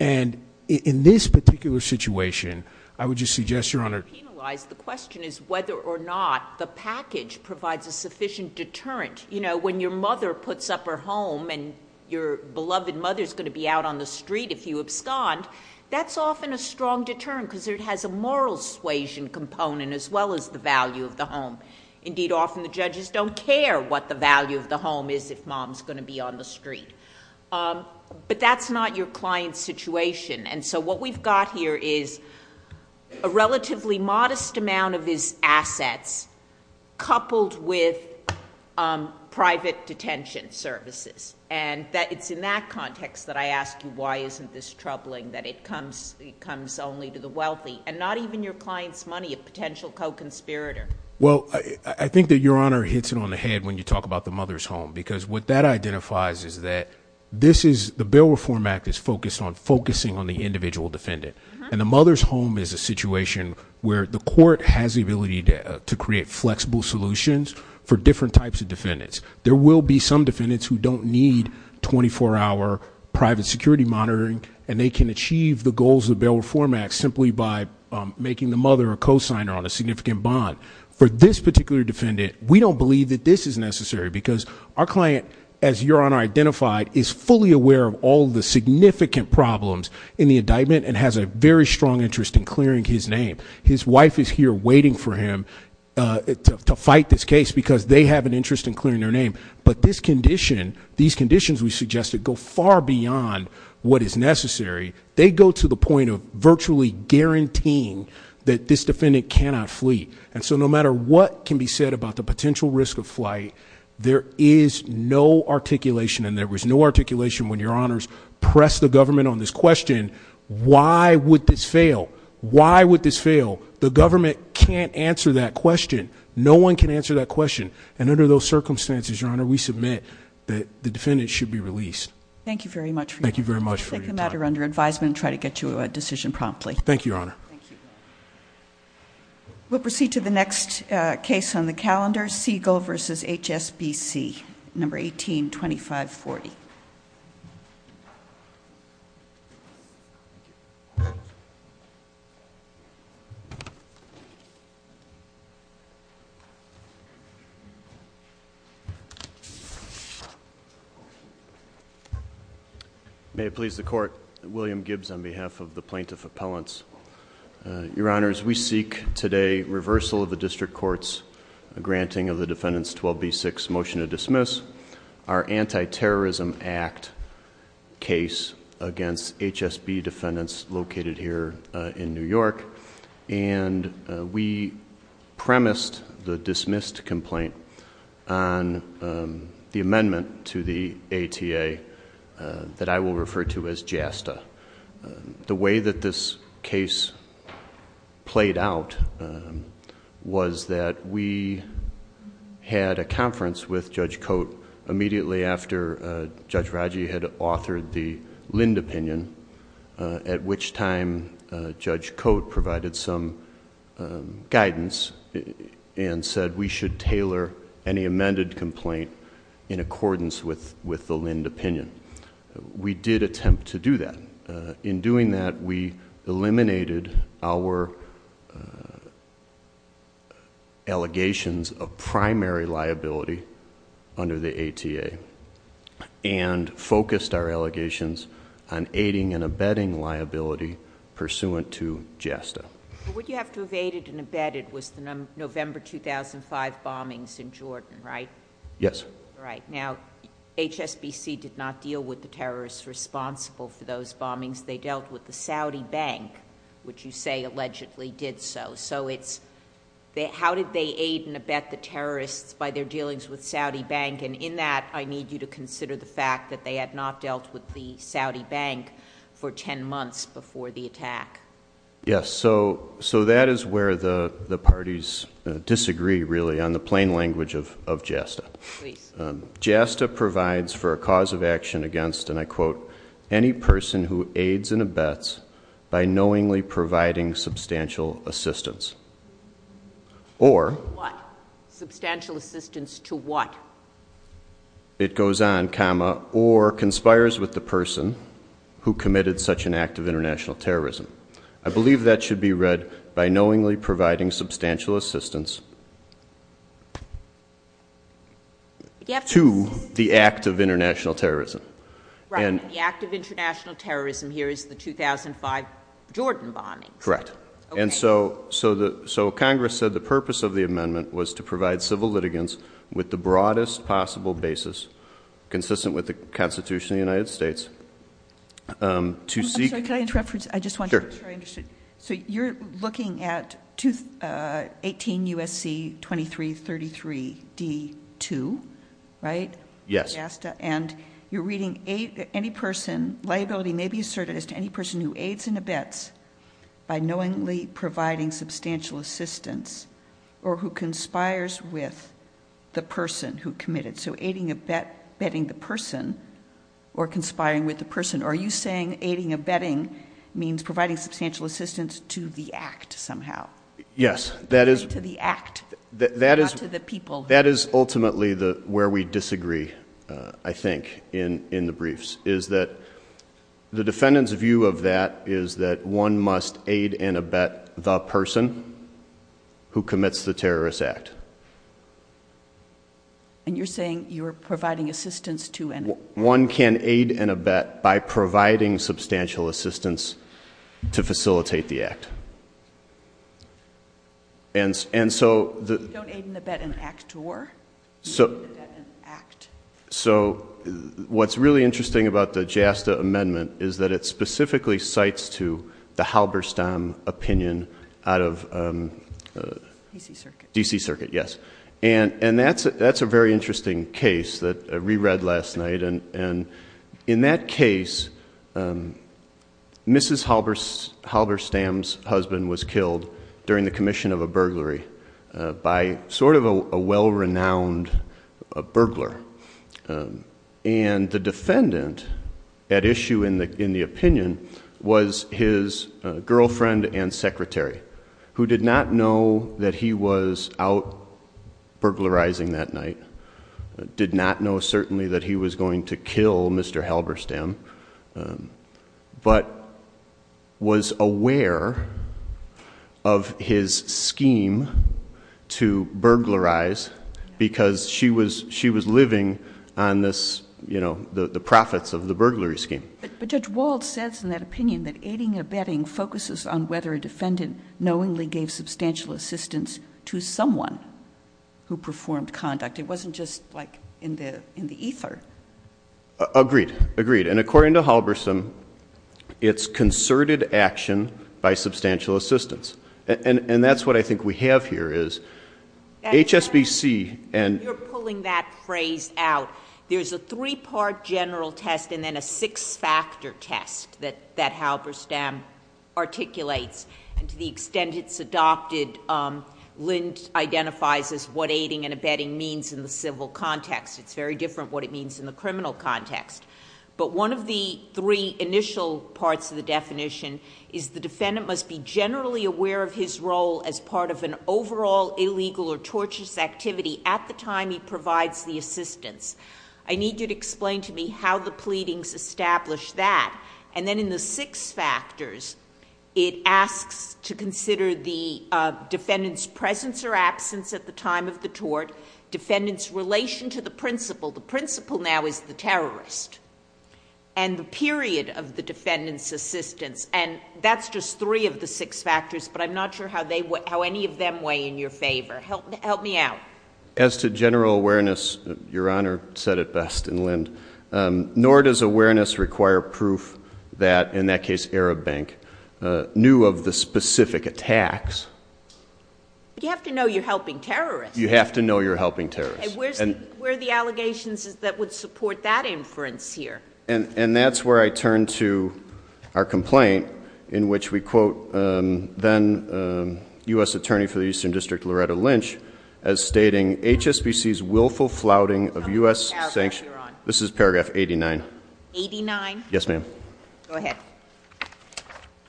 and in this particular situation, I would just suggest, Your Honor, To penalize, the question is whether or not the package provides a sufficient deterrent. When your mother puts up her home and your beloved mother's going to be out on the street if you abscond, that's often a strong deterrent because it has a moral suasion component as well as the value of the home. Indeed, often the judges don't care what the value of the home is if mom's going to be on the street, but that's not your client's situation. What we've got here is a relatively modest amount of his assets coupled with private detention services. It's in that context that I asked you why isn't this troubling, that it comes only to the wealthy and not even your client's money, a potential co-conspirator. Well, I think that Your Honor hits it on the head when you talk about the mother's home because what that identifies is that the Bail Reform Act is focused on focusing on the individual defendant, and the mother's home is a situation where the court has the ability to create flexible solutions for different types of defendants. There will be some defendants who don't need 24-hour private security monitoring, and they can achieve the goals of the Bail Reform Act simply by making the mother a cosigner on a significant bond. For this particular defendant, we don't believe that this is necessary because our client, as Your Honor identified, is fully aware of all the significant problems in the indictment and has a very strong interest in clearing his name. His wife is here waiting for him to fight this case because they have an interest in clearing their name, but these conditions we suggested go far beyond what is necessary. They go to the point of virtually guaranteeing that this defendant cannot flee. So no matter what can be said about the potential risk of flight, there is no articulation, and there was no articulation when Your Honors pressed the government on this question, why would this fail? Why would this fail? The government can't answer that question. No one can answer that question, and under those circumstances, Your Honor, we submit that the defendant should be released. Thank you very much for your time. We'll take the matter under advisement and try to get you a decision promptly. Thank you, Your Honor. We'll proceed to the next case on the calendar, Siegel v. HSBC, No. 18-2540. May it please the Court, William Gibbs on behalf of the Plaintiff Appellants. Your Honors, we seek today reversal of the District Court's granting of the defendant's 12b-6 motion to dismiss. Our Anti-Terrorism Act case against HSB defendants located here in New York, and we premised the dismissed complaint on the amendment to the ATA that I will refer to as JASTA. The way that this case played out was that we had a conference with Judge Cote immediately after Judge Radji had authored the Lind opinion, at which time Judge Cote provided some guidance and said we should tailor any amended complaint in accordance with the Lind opinion. We did attempt to do that. In doing that, we eliminated our allegations of primary liability under the ATA and focused our allegations on aiding and abetting liability pursuant to JASTA. What you have to have aided and abetted was the November 2005 bombings in Jordan, right? Yes. Right. Now, HSBC did not deal with the terrorists responsible for those bombings. They dealt with the Saudi Bank, which you say allegedly did so. So how did they aid and abet the terrorists by their dealings with Saudi Bank? And in that, I need you to consider the fact that they had not dealt with the Saudi Bank for 10 months before the attack. Yes. So that is where the parties disagree, really, on the plain language of JASTA. JASTA provides for a cause of action against, and I quote, any person who aids and abets by knowingly providing substantial assistance, or What? Substantial assistance to what? It goes on, comma, or conspires with the person who committed such an act of international terrorism. I believe that should be read by knowingly providing substantial assistance to the act of international terrorism. Right. The act of international terrorism here is the 2005 Jordan bombing. Correct. Okay. And so Congress said the purpose of the amendment was to provide civil litigants with the broadest possible basis consistent with the Constitution of the United States to seek So you're looking at 18 U.S.C. 2333 D2, right? Yes. And you're reading any person, liability may be asserted as to any person who aids and abets by knowingly providing substantial assistance, or who conspires with the person who committed. So aiding and abetting the person, or conspiring with the person. Are you saying aiding and abetting means providing substantial assistance to the act somehow? Yes. To the act, not to the people. That is ultimately where we disagree, I think, in the briefs, is that the defendant's view of that is that one must aid and abet the person who commits the terrorist act. And you're saying you're providing assistance to an One can aid and abet by providing substantial assistance to facilitate the act. Don't aid and abet an act, or? Don't aid and abet an act. So what's really interesting about the JASTA amendment is that it specifically cites to the Halberstam opinion out of D.C. Circuit. D.C. Circuit, yes. And that's a very interesting case that we read last night. And in that case, Mrs. Halberstam's husband was killed during the commission of a burglary by sort of a well-renowned burglar. And the defendant at issue in the opinion was his girlfriend and secretary, who did not know that he was out burglarizing that night, did not know certainly that he was going to kill Mr. Halberstam, but was aware of his scheme to burglarize because she was living on the profits of the burglary scheme. But Judge Wald says in that opinion that aiding and abetting focuses on whether a defendant knowingly gave substantial assistance to someone who performed conduct. It wasn't just like in the ether. Agreed. Agreed. And according to Halberstam, it's concerted action by substantial assistance. And that's what I think we have here is HSBC and — You're pulling that phrase out. There's a three-part general test and then a six-factor test that Halberstam articulates. And to the extent it's adopted, Lind identifies what aiding and abetting means in the civil context. It's very different what it means in the criminal context. But one of the three initial parts of the definition is the defendant must be generally aware of his role as part of an overall illegal or torturous activity at the time he provides the assistance. I need you to explain to me how the pleadings establish that. And then in the six factors, it asks to consider the defendant's presence or absence at the time of the tort, defendant's relation to the principal — the principal now is the terrorist — and the period of the defendant's assistance. And that's just three of the six factors, but I'm not sure how any of them weigh in your favor. Help me out. As to general awareness, Your Honor said it best in Lind, nor does awareness require proof that, in that case Arab Bank, knew of the specific attacks. But you have to know you're helping terrorists. You have to know you're helping terrorists. And where are the allegations that would support that inference here? And that's where I turn to our complaint in which we quote then U.S. Attorney for the Eastern District Loretta Lynch as stating HSBC's willful flouting of U.S. sanctions — this is paragraph 89. 89? Yes, ma'am. Go ahead.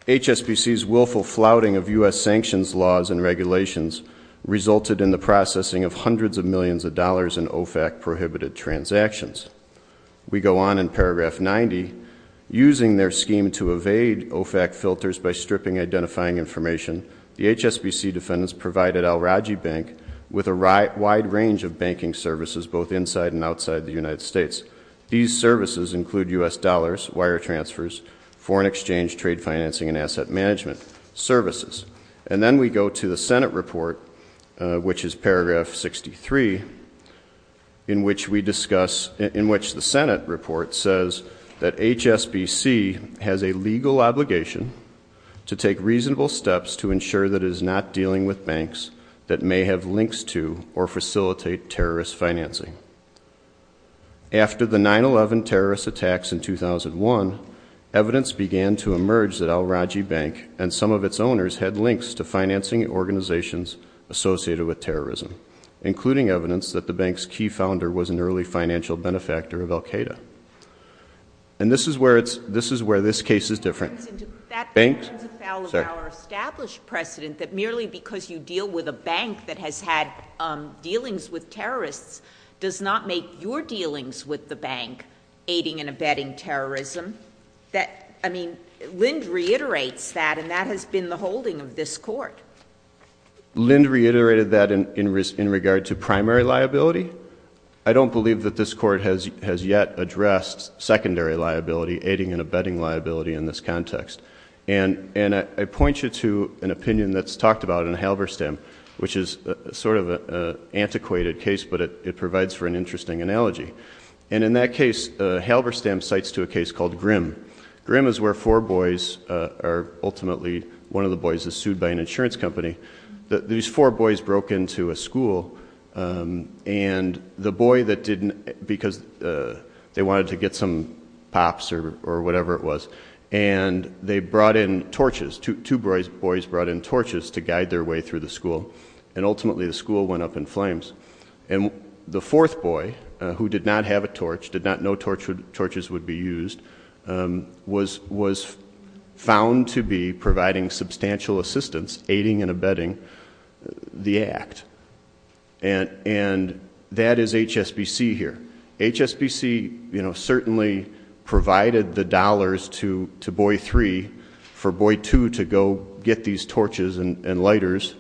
HSBC's willful flouting of U.S. sanctions laws and regulations resulted in the processing of hundreds of millions of dollars in OFAC-prohibited transactions. We go on in paragraph 90. Using their scheme to evade OFAC filters by stripping identifying information, the HSBC defendants provided Al-Raji Bank with a wide range of banking services both inside and outside the United States. These services include U.S. dollars, wire transfers, foreign exchange, trade financing, and asset management services. And then we go to the Senate report, which is paragraph 63, in which the Senate report says that HSBC has a legal obligation to take reasonable steps to ensure that it is not dealing with banks that may have links to or facilitate terrorist financing. After the 9-11 terrorist attacks in 2001, evidence began to emerge that Al-Raji Bank and some of its owners had links to financing organizations associated with terrorism, including evidence that the bank's key founder was an early financial benefactor of Al-Qaeda. And this is where this case is different. That is our established precedent that merely because you deal with a bank that has had dealings with terrorists does not make your dealings with the bank aiding and abetting terrorism. I mean, Lind reiterates that, and that has been the holding of this court. Lind reiterated that in regard to primary liability. I don't believe that this court has yet addressed secondary liability, aiding and abetting liability in this context. And I point you to an opinion that's talked about in Halberstam, which is sort of an antiquated case, but it provides for an interesting analogy. And in that case, Halberstam cites to a case called Grimm. Grimm is where four boys are ultimately, one of the boys is sued by an insurance company. These four boys broke into a school, and the boy that didn't, because they wanted to get some pops or whatever it was, and they brought in torches, two boys brought in torches to guide their way through the school, and ultimately the school went up in flames. And the fourth boy, who did not have a torch, did not know torches would be used, was found to be providing substantial assistance, aiding and abetting the act. And that is HSBC here. HSBC certainly provided the dollars to Boy 3 for Boy 2 to go get these torches and lighters,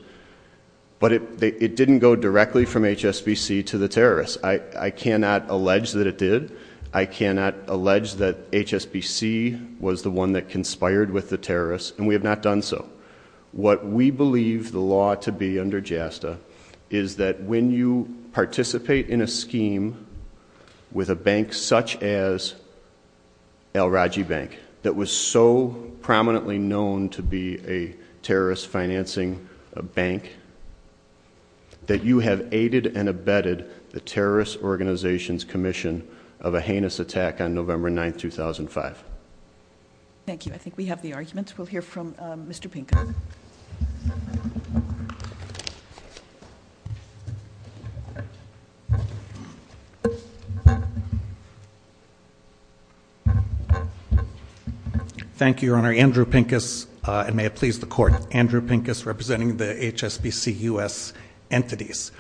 but it didn't go directly from HSBC to the terrorists. I cannot allege that it did. I cannot allege that HSBC was the one that conspired with the terrorists, and we have not done so. What we believe the law to be under JASTA is that when you participate in a scheme with a bank such as El Raji Bank, that was so prominently known to be a terrorist financing bank, that you have aided and abetted the terrorist organization's commission of a heinous attack on November 9, 2005. Thank you. I think we have the arguments. We'll hear from Mr. Pincus. Thank you, Your Honor. Andrew Pincus, and may it please the Court. Andrew Pincus, representing the HSBC U.S. entities.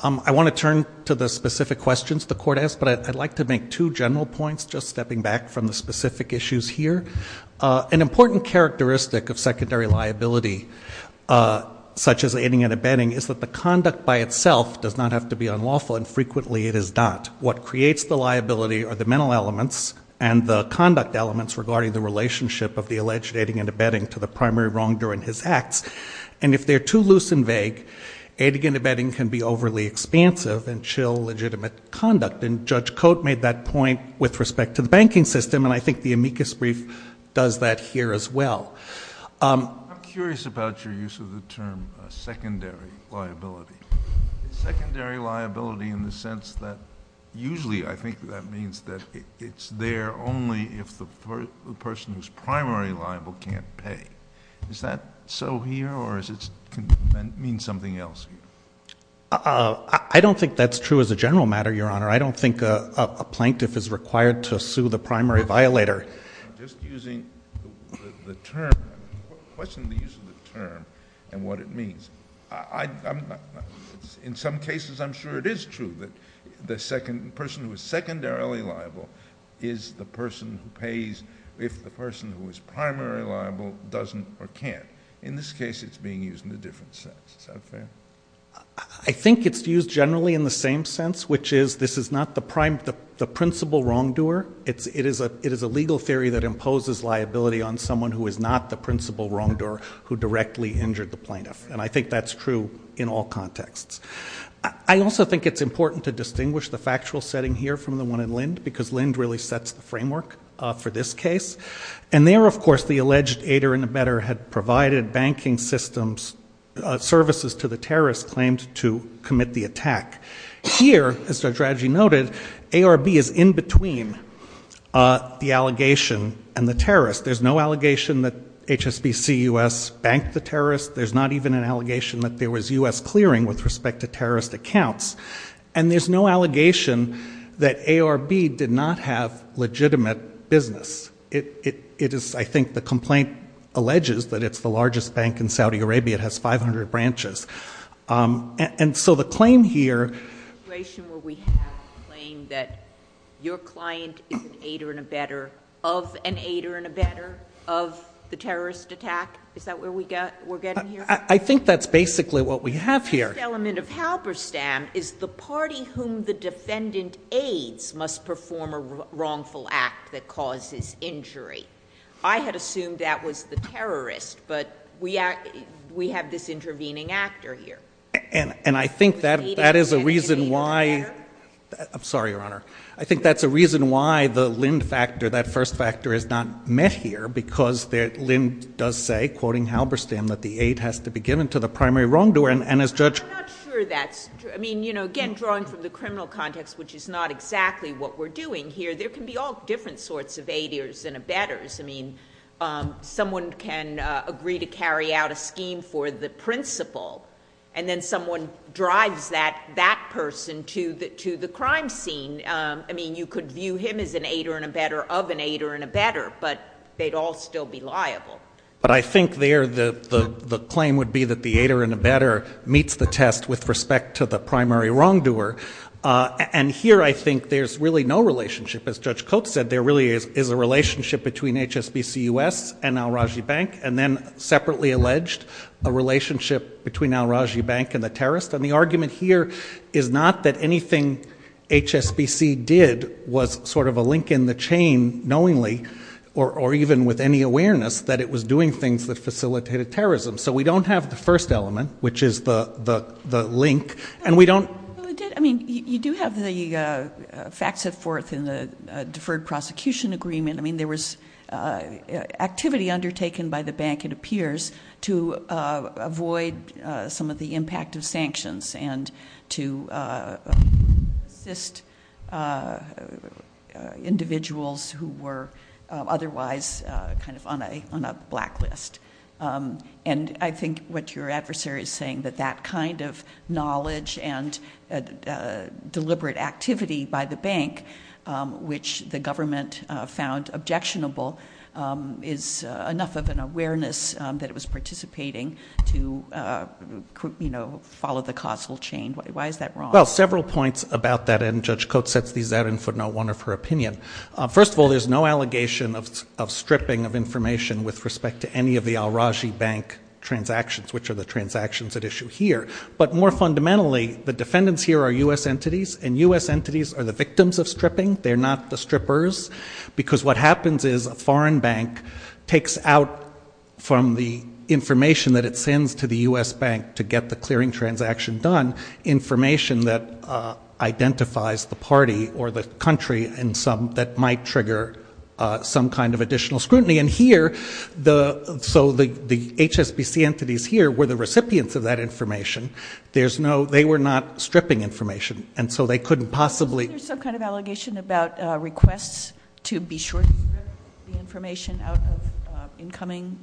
I want to turn to the specific questions the Court has, but I'd like to make two general points, just stepping back from the specific issues here. An important characteristic of secondary liability, such as aiding and abetting, is that the conduct by itself does not have to be unlawful, and frequently it is not. What creates the liability are the mental elements and the conduct elements regarding the relationship of the alleged aiding and abetting to the primary wrongdoer in his act. And if they're too loose and vague, aiding and abetting can be overly expansive and show legitimate conduct. And Judge Cote made that point with respect to the banking system, and I think the amicus brief does that here as well. I'm curious about your use of the term secondary liability. Secondary liability in the sense that usually I think that means that it's there only if the person who's primary liable can't pay. Is that so here, or does that mean something else here? I don't think that's true as a general matter, Your Honor. I don't think a plaintiff is required to sue the primary violator. Just using the term, the question of the use of the term and what it means. In some cases, I'm sure it is true that the person who is secondarily liable is the person who pays if the person who is primary liable doesn't or can't. In this case, it's being used in a different sense. Is that fair? I think it's used generally in the same sense, which is this is not the principal wrongdoer. It is a legal theory that imposes liability on someone who is not the principal wrongdoer who directly injured the plaintiff. And I think that's true in all contexts. I also think it's important to distinguish the factual setting here from the one in Lind, because Lind really sets the framework for this case. And there, of course, the alleged aider and abettor had provided banking systems services to the terrorist claimed to commit the attack. Here, as our strategy noted, ARB is in between the allegation and the terrorist. There's no allegation that HSBC US banked the terrorist. There's not even an allegation that there was US clearing with respect to terrorist accounts. And there's no allegation that ARB did not have legitimate business. It is, I think, the complaint alleges that it's the largest bank in Saudi Arabia. It has 500 branches. And so the claim here... The situation where we have a claim that your client is an aider and abettor of an aider and abettor of the terrorist attack? Is that where we're getting here? I think that's basically what we have here. The first element of Halberstam is the party whom the defendant aids must perform a wrongful act that causes injury. I had assumed that was the terrorist, but we have this intervening actor here. And I think that is a reason why... I'm sorry, Your Honor. I think that's a reason why the Lind factor, that first factor, is not met here, because Lind does say, quoting Halberstam, that the aid has to be given to the primary wrongdoer, and as Judge... I'm not sure that's... I mean, you know, again, drawing from the criminal context, which is not exactly what we're doing here, there can be all different sorts of aiders and abettors. I mean, someone can agree to carry out a scheme for the principal, and then someone drives that person to the crime scene. I mean, you could view him as an aider and abettor of an aider and abettor, but they'd all still be liable. But I think there the claim would be that the aider and abettor meets the test with respect to the primary wrongdoer. And here I think there's really no relationship. As Judge Koch said, there really is a relationship between HSBC-U.S. and al-Rajhi Bank, and then, separately alleged, a relationship between al-Rajhi Bank and the terrorists. And the argument here is not that anything HSBC did was sort of a link in the chain, knowingly, or even with any awareness that it was doing things that facilitated terrorism. So we don't have the first element, which is the link, and we don't... I mean, you do have the facts set forth in the Deferred Prosecution Agreement. I mean, there was activity undertaken by the bank, it appears, to avoid some of the impact of sanctions and to assist individuals who were otherwise kind of on a blacklist. And I think what your adversary is saying, that that kind of knowledge and deliberate activity by the bank, which the government found objectionable, is enough of an awareness that it was participating to follow the causal chain. Why is that wrong? Well, several points about that, and Judge Koch sets these out in footnote 1 of her opinion. First of all, there's no allegation of stripping of information with respect to any of the al-Rajhi Bank transactions, which are the transactions at issue here. But more fundamentally, the defendants here are U.S. entities, and U.S. entities are the victims of stripping. They're not the strippers. Because what happens is a foreign bank takes out from the information that it sends to the U.S. bank to get the clearing transaction done, information that identifies the party or the country that might trigger some kind of additional scrutiny. And here, so the HSBC entities here were the recipients of that information. They were not stripping information, and so they couldn't possibly. Is there some kind of allegation about requests to be short-stripped the information out of incoming?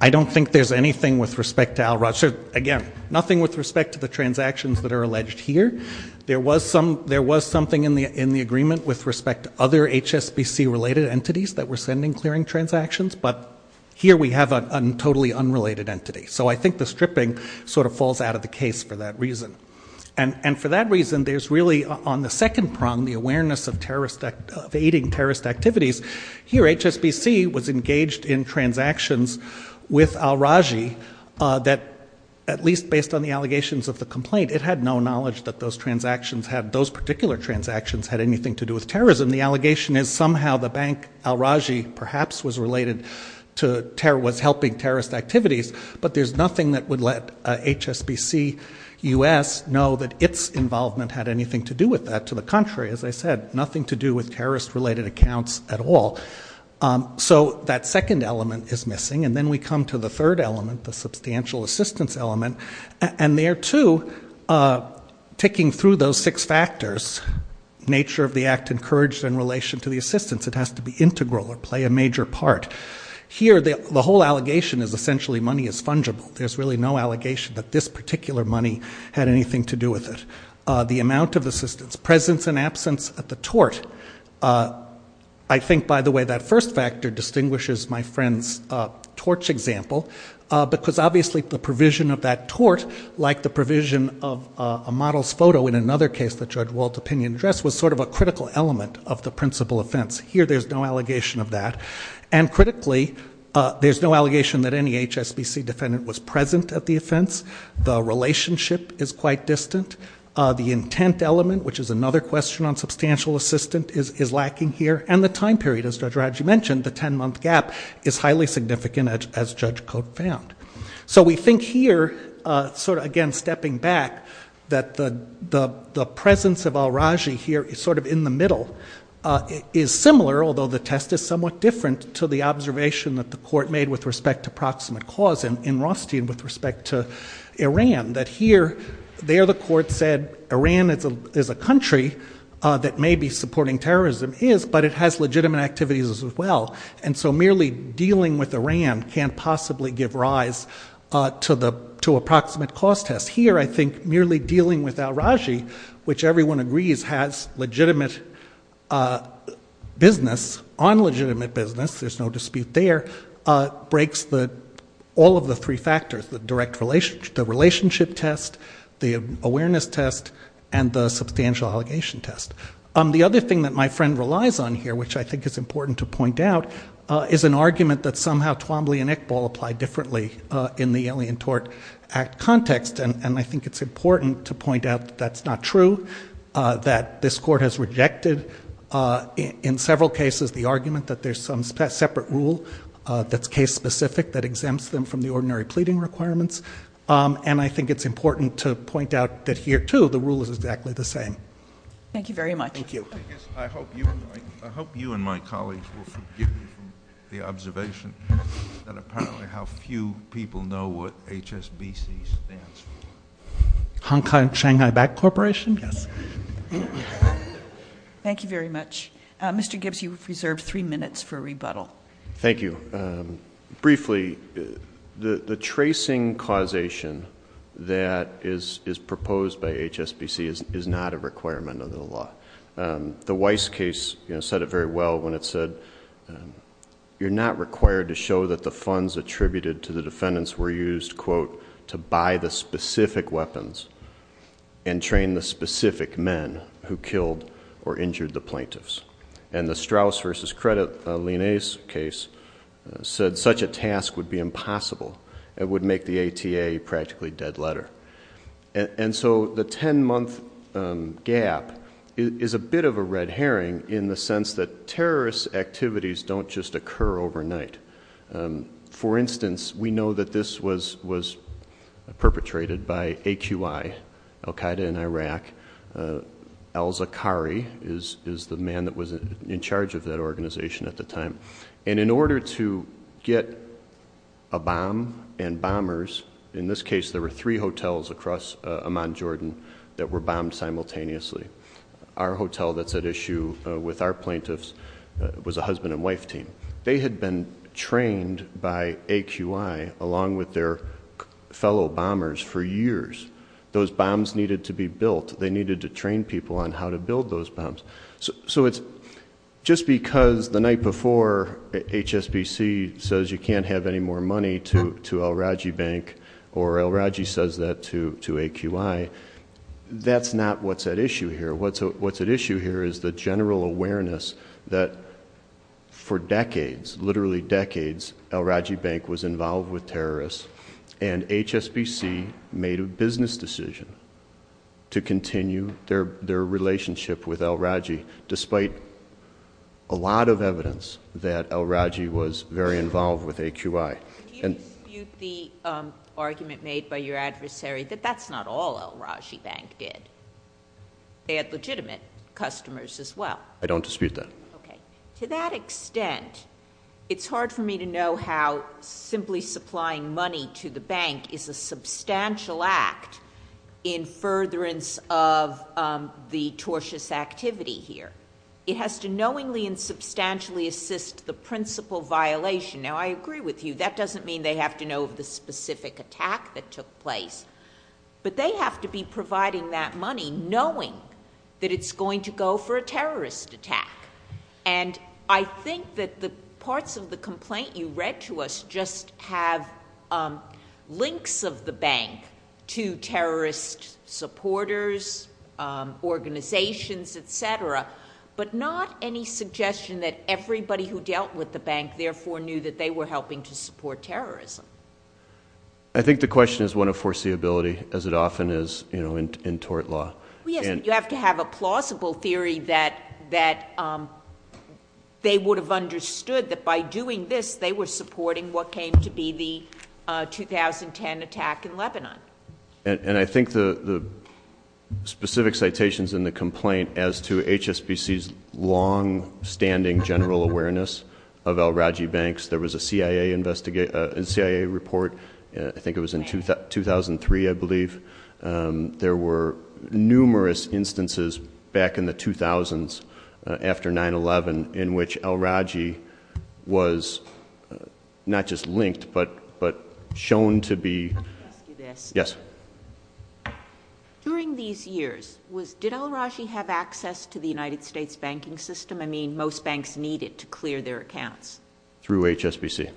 I don't think there's anything with respect to al-Rajhi. Again, nothing with respect to the transactions that are alleged here. There was something in the agreement with respect to other HSBC-related entities that were sending clearing transactions, but here we have a totally unrelated entity. So I think the stripping sort of falls out of the case for that reason. And for that reason, there's really on the second prong the awareness of aiding terrorist activities. Here, HSBC was engaged in transactions with al-Rajhi that, at least based on the allegations of the complaint, it had no knowledge that those particular transactions had anything to do with terrorism. The allegation is somehow the bank al-Rajhi perhaps was helping terrorist activities, but there's nothing that would let HSBC-U.S. know that its involvement had anything to do with that. Quite to the contrary, as I said, nothing to do with terrorist-related accounts at all. So that second element is missing, and then we come to the third element, the substantial assistance element, and there, too, ticking through those six factors, nature of the act encouraged in relation to the assistance, it has to be integral or play a major part. Here, the whole allegation is essentially money is fungible. There's really no allegation that this particular money had anything to do with it. The amount of assistance, presence and absence at the tort. I think, by the way, that first factor distinguishes my friend's tort example, because obviously the provision of that tort, like the provision of a model's photo in another case that George Walt's opinion addressed, was sort of a critical element of the principal offense. Here, there's no allegation of that. And critically, there's no allegation that any HSBC defendant was present at the offense. The relationship is quite distant. The intent element, which is another question on substantial assistance, is lacking here, and the time period, as Judge Raji mentioned, the ten-month gap, is highly significant, as Judge Koch found. So we think here, sort of again stepping back, that the presence of Al-Raji here is sort of in the middle, is similar, although the test is somewhat different, to the observation that the court made with respect to proximate cause in Rothstein with respect to Iran, that here, there the court said Iran is a country that may be supporting terrorism, but it has legitimate activities as well, and so merely dealing with Iran can't possibly give rise to a proximate cause test. Here, I think, merely dealing with Al-Raji, which everyone agrees has legitimate business, on legitimate business, there's no dispute there, breaks all of the three factors, the relationship test, the awareness test, and the substantial allegation test. The other thing that my friend relies on here, which I think is important to point out, is an argument that somehow Twombly and Iqbal apply differently in the Alien Tort Act context, and I think it's important to point out that's not true, that this court has rejected in several cases the argument that there's some separate rule that's case specific that exempts them from the ordinary pleading requirements, and I think it's important to point out that here, too, the rule is exactly the same. Thank you very much. Thank you. I hope you and my colleagues will forgive me for the observation that apparently how few people know what HSBC stands for. Shanghai Back Corporation? Yes. Thank you very much. Mr. Gibbs, you have reserved three minutes for rebuttal. Thank you. Briefly, the tracing causation that is proposed by HSBC is not a requirement of the law. The Weiss case said it very well when it said, you're not required to show that the funds attributed to the defendants were used, quote, to buy the specific weapons and train the specific men who killed or injured the plaintiffs. And the Straus v. Credit Linaise case said such a task would be impossible. It would make the ATA a practically dead letter. And so the 10-month gap is a bit of a red herring in the sense that terrorist activities don't just occur overnight. For instance, we know that this was perpetrated by AQI, al-Qaeda in Iraq. al-Zaqqari is the man that was in charge of that organization at the time. And in order to get a bomb and bombers, in this case there were three hotels across Amman, Jordan, that were bombed simultaneously. Our hotel that's at issue with our plaintiffs was a husband and wife team. They had been trained by AQI along with their fellow bombers for years. Those bombs needed to be built. They needed to train people on how to build those bombs. So just because the night before HSBC says you can't have any more money to al-Raji Bank or al-Raji says that to AQI, that's not what's at issue here. What's at issue here is the general awareness that for decades, literally decades, al-Raji Bank was involved with terrorists and HSBC made a business decision to continue their relationship with al-Raji despite a lot of evidence that al-Raji was very involved with AQI. You dispute the argument made by your adversary that that's not all al-Raji Bank did. They had legitimate customers as well. I don't dispute that. To that extent, it's hard for me to know how simply supplying money to the bank is a substantial act in furtherance of the tortious activity here. It has to knowingly and substantially assist the principal violation. Now, I agree with you. That doesn't mean they have to know of the specific attack that took place, but they have to be providing that money knowing that it's going to go for a terrorist attack. I think that the parts of the complaint you read to us just have links of the bank to terrorist supporters, organizations, etc., but not any suggestion that everybody who dealt with the bank therefore knew that they were helping to support terrorism. I think the question is one of foreseeability, as it often is in tort law. You have to have a plausible theory that they would have understood that by doing this, they were supporting what came to be the 2010 attack in Lebanon. And I think the specific citations in the complaint as to HSBC's long-standing general awareness of al-Raji Banks, there was a CIA report, I think it was in 2003, I believe. There were numerous instances back in the 2000s, after 9-11, in which al-Raji was not just linked, but shown to be... Yes? During these years, did al-Raji have access to the United States banking system? I mean, most banks need it to clear their accounts. Through HSBC.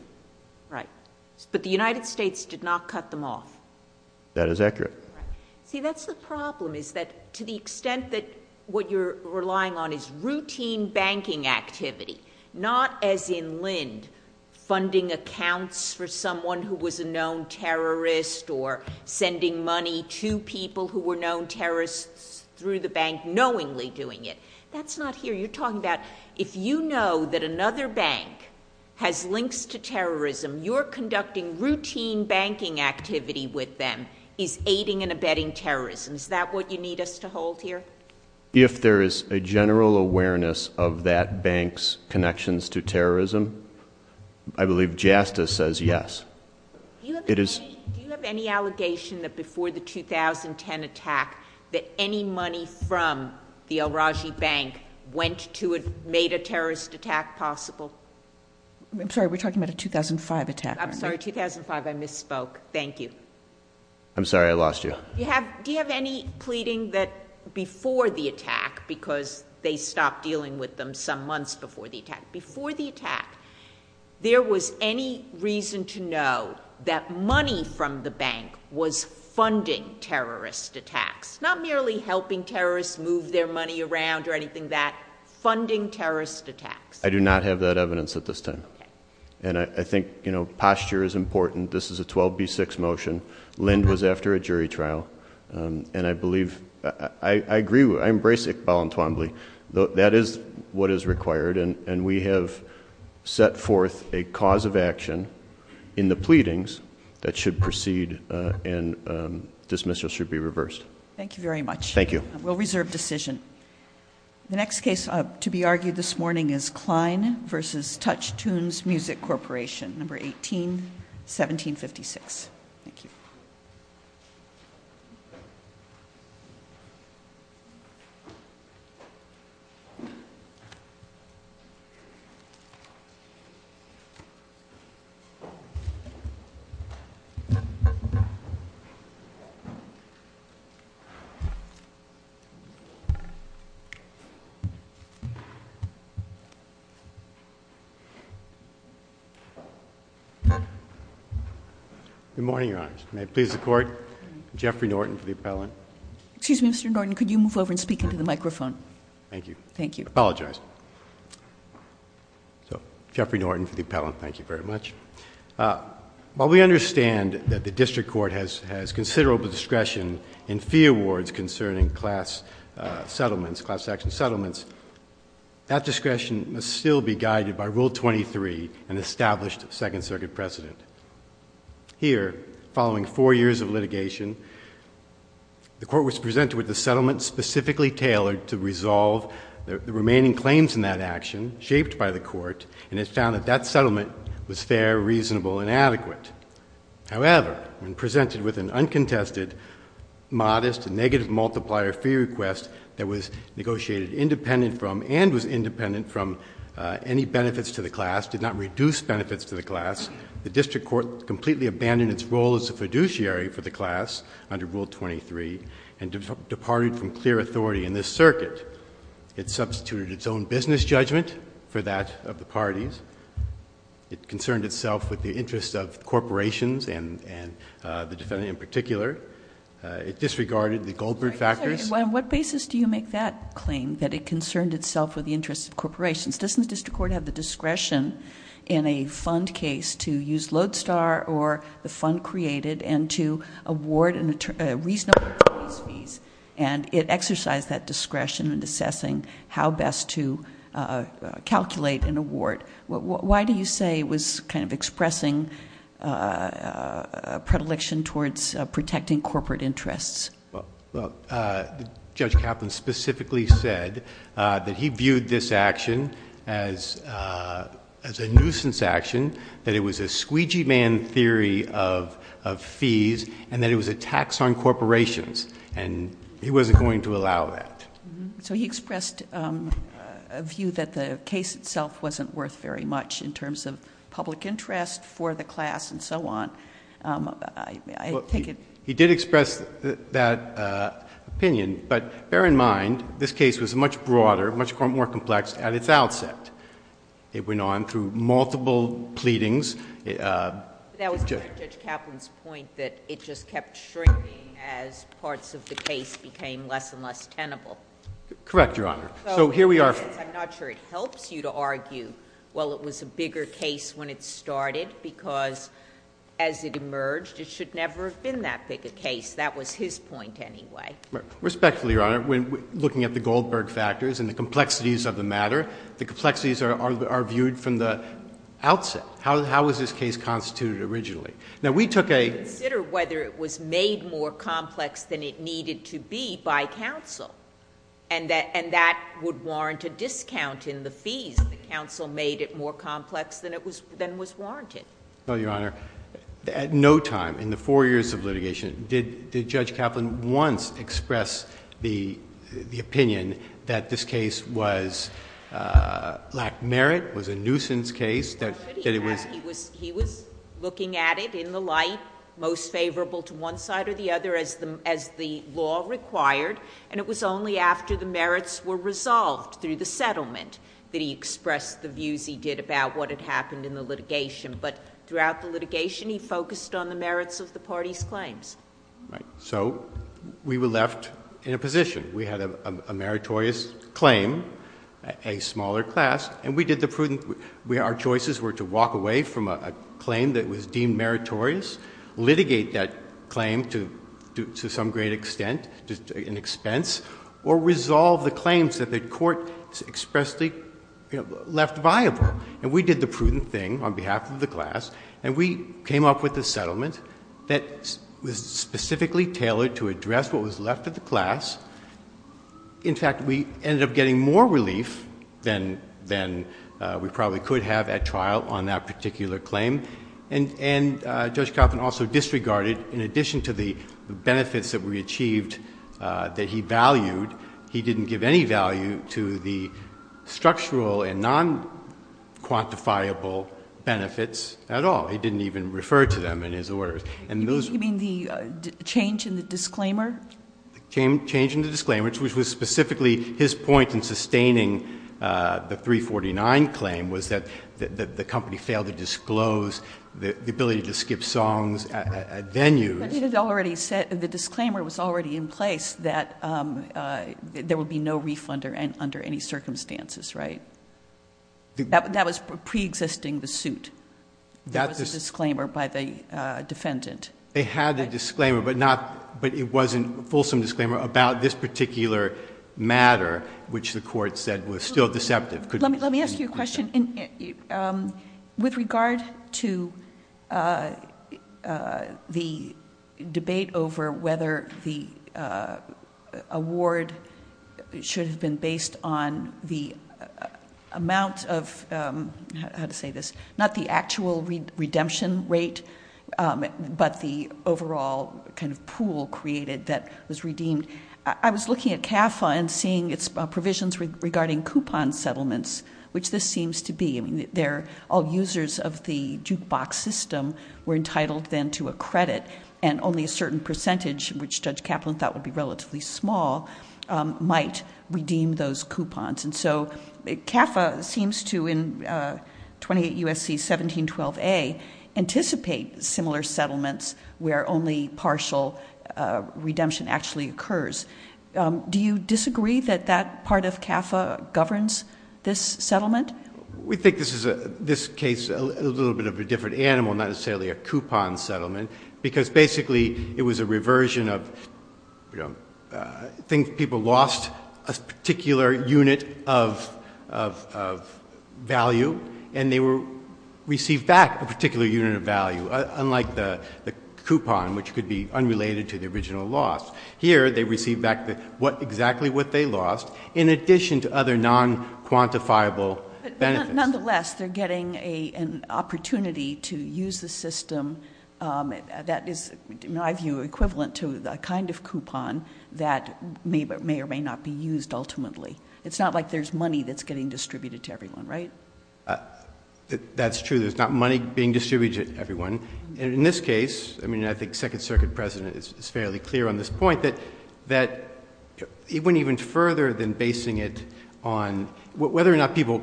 Right. But the United States did not cut them off. That is accurate. See, that's the problem, is that to the extent that what you're relying on is routine banking activity, not as in Lind, funding accounts for someone who was a known terrorist, or sending money to people who were known terrorists through the bank, knowingly doing it. That's not here. You're talking about if you know that another bank has links to terrorism, you're conducting routine banking activity with them, is aiding and abetting terrorism. Is that what you need us to hold here? If there is a general awareness of that bank's connections to terrorism, I believe JASTA says yes. Do you have any allegation that before the 2010 attack, that any money from the al-Raji bank made a terrorist attack possible? I'm sorry, we're talking about a 2005 attack. I'm sorry, 2005, I misspoke. Thank you. I'm sorry, I lost you. Do you have any pleading that before the attack, because they stopped dealing with them some months before the attack, there was any reason to know that money from the bank was funding terrorist attacks? Not merely helping terrorists move their money around or anything like that. Funding terrorist attacks. I do not have that evidence at this time. And I think, you know, posture is important. This is a 12B6 motion. Lind was after a jury trial. And I believe, I agree, I embrace Iqbal and Twombly. That is what is required. And we have set forth a cause of action in the pleadings that should proceed and dismissal should be reversed. Thank you very much. Thank you. We'll reserve decision. The next case to be argued this morning is Klein v. Touch Tunes Music Corporation, number 18, 1756. Thank you. Good morning, Your Honor. May I please report? Jeffrey Norton for the appellant. Excuse me, Mr. Norton. Could you move over and speak into the microphone? Thank you. Thank you. I apologize. Jeffrey Norton for the appellant. Thank you very much. While we understand that the district court has considerable discretion in fee awards concerning class settlements, class action settlements, that discretion must still be guided by Rule 23, an established Second Circuit precedent. Here, following four years of litigation, the court was presented with a settlement specifically tailored to resolve the remaining claims in that action shaped by the court, and it's found that that settlement was fair, reasonable, and adequate. However, when presented with an uncontested, modest, and negative multiplier fee request that was negotiated independent from and was independent from any benefits to the class, did not reduce benefits to the class, the district court completely abandoned its role as a fiduciary for the class under Rule 23 and departed from clear authority in this circuit. It substituted its own business judgment for that of the parties. It concerned itself with the interests of corporations and the defendant in particular. It disregarded the Goldberg factors. On what basis do you make that claim, that it concerned itself with the interests of corporations? Doesn't the district court have the discretion in a fund case to use Lodestar or the fund created and to award a reasonable amount of fees, and it exercised that discretion in assessing how best to calculate an award? Why do you say it was kind of expressing a predilection towards protecting corporate interests? Well, Judge Kaplan specifically said that he viewed this action as a nuisance action, that it was a squeegee man theory of fees, and that it was a tax on corporations, and he wasn't going to allow that. So he expressed a view that the case itself wasn't worth very much in terms of public interest for the class and so on. He did express that opinion, but bear in mind, this case was much broader, much more complex at its outset. It went on through multiple pleadings. That was Judge Kaplan's point that it just kept shrinking as parts of the case became less and less tenable. Correct, Your Honor. I'm not sure it helps you to argue, well, it was a bigger case when it started, because as it emerged, it should never have been that big a case. That was his point anyway. Respectfully, Your Honor, looking at the Goldberg factors and the complexities of the matter, the complexities are viewed from the outset. How was this case constituted originally? Now, we took a— Consider whether it was made more complex than it needed to be by counsel, and that would warrant a discount in the fees. The counsel made it more complex than was warranted. No, Your Honor. At no time in the four years of litigation did Judge Kaplan once express the opinion that this case lacked merit, was a nuisance case. He was looking at it in the light, most favorable to one side or the other as the law required, and it was only after the merits were resolved through the settlement that he expressed the views he did about what had happened in the litigation. But throughout the litigation, he focused on the merits of the parties' claims. Right. So we were left in a position. We had a meritorious claim, a smaller class, and we did the prudent— our choices were to walk away from a claim that was deemed meritorious, litigate that claim to some great extent, an expense, or resolve the claims that the court expressly left viable. And we did the prudent thing on behalf of the class, and we came up with a settlement that was specifically tailored to address what was left of the class. In fact, we ended up getting more relief than we probably could have at trial on that particular claim. And Judge Kaplan also disregarded, in addition to the benefits that we achieved that he valued, he didn't give any value to the structural and non-quantifiable benefits at all. He didn't even refer to them in his order. You mean the change in the disclaimer? Change in the disclaimer, which was specifically his point in sustaining the 349 claim, was that the company failed to disclose the ability to skip songs, venues— But he had already said—the disclaimer was already in place that there would be no refund under any circumstances, right? That was pre-existing the suit. That was the disclaimer by the defendant. They had the disclaimer, but not— but it wasn't a fulsome disclaimer about this particular matter, which the court said was still deceptive. Let me ask you a question. With regards to the debate over whether the award should have been based on the amount of—how to say this— not the actual redemption rate, but the overall kind of pool created that was redeemed, I was looking at CAFA and seeing its provisions regarding coupon settlements, which this seems to be. All users of the jukebox system were entitled then to a credit, and only a certain percentage, which Judge Kaplan thought would be relatively small, might redeem those coupons. And so CAFA seems to, in 28 U.S.C. 1712a, anticipate similar settlements where only partial redemption actually occurs. Do you disagree that that part of CAFA governs this settlement? We think this case is a little bit of a different animal, not necessarily a coupon settlement, because basically it was a reversion of, you know, people lost a particular unit of value, and they received back a particular unit of value, unlike the coupon, which could be unrelated to the original loss. Here, they received back exactly what they lost, in addition to other non-quantifiable benefits. Nonetheless, they're getting an opportunity to use the system that is, in my view, equivalent to the kind of coupon that may or may not be used ultimately. It's not like there's money that's getting distributed to everyone, right? That's true. There's not money being distributed to everyone. In this case, I mean, I think the Second Circuit President is fairly clear on this point, that it went even further than basing it on whether or not people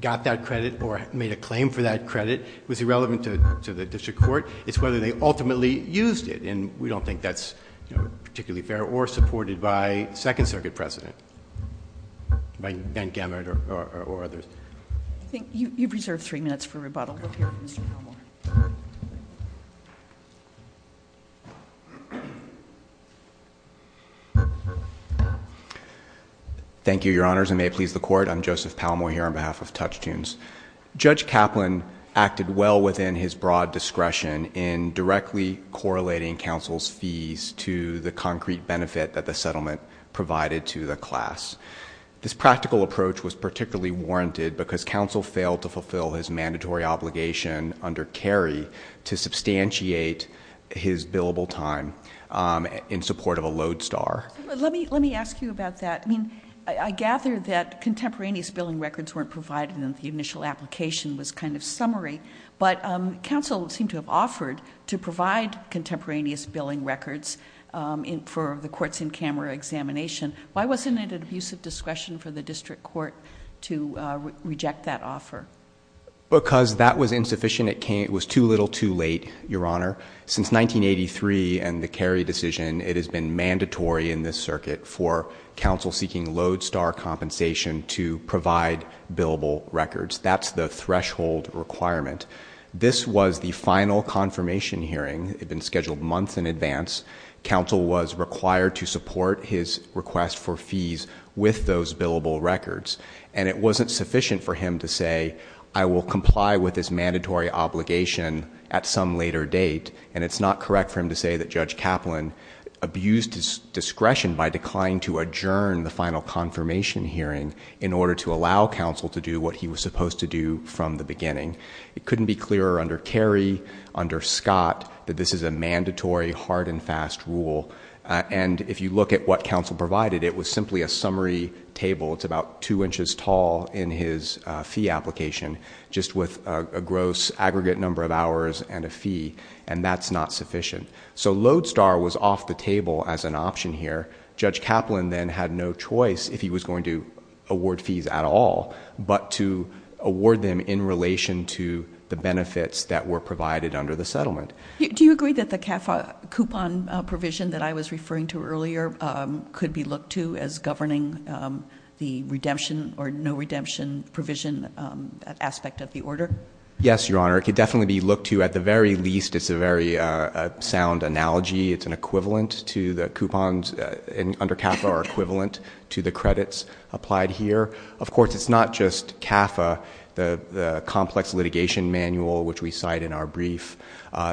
got that credit or made a claim for that credit. It was irrelevant to the district court. It's whether they ultimately used it, and we don't think that's particularly fair, or supported by the Second Circuit President and Gamert or others. I think you preserved three minutes for rebuttal. Thank you. Thank you, Your Honors, and may it please the Court, I'm Joseph Palmore here on behalf of Touchtoons. Judge Kaplan acted well within his broad discretion in directly correlating counsel's fees to the concrete benefit that the settlement provided to the class. This practical approach was particularly warranted because counsel failed to fulfill his mandatory obligation under Carey to substantiate his billable time in support of a lodestar. Let me ask you about that. I gathered that contemporaneous billing records weren't provided in the initial application, this kind of summary, but counsel seemed to have offered to provide contemporaneous billing records for the courts-in-camera examination. Why wasn't it of use of discretion for the district court to reject that offer? Because that was insufficient. It was too little, too late, Your Honor. Since 1983 and the Carey decision, it has been mandatory in this circuit for counsel seeking lodestar compensation to provide billable records. That's the threshold requirement. This was the final confirmation hearing. It had been scheduled months in advance. Counsel was required to support his request for fees with those billable records. And it wasn't sufficient for him to say, I will comply with this mandatory obligation at some later date, and it's not correct for him to say that Judge Kaplan abused his discretion by declining to adjourn the final confirmation hearing in order to allow counsel to do what he was supposed to do from the beginning. It couldn't be clearer under Carey, under Scott, that this is a mandatory, hard-and-fast rule. And if you look at what counsel provided, it was simply a summary table. It's about 2 inches tall in his fee application, just with a gross aggregate number of hours and a fee, and that's not sufficient. So lodestar was off the table as an option here. Judge Kaplan then had no choice if he was going to award fees at all, but to award them in relation to the benefits that were provided under the settlement. Do you agree that the CAFA coupon provision that I was referring to earlier could be looked to as governing the redemption or no-redemption provision aspect of the order? Yes, Your Honor, it could definitely be looked to. At the very least, it's a very sound analogy. It's an equivalent to the coupons under CAFA or equivalent to the credits applied here. Of course, it's not just CAFA, the complex litigation manual which we cite in our brief.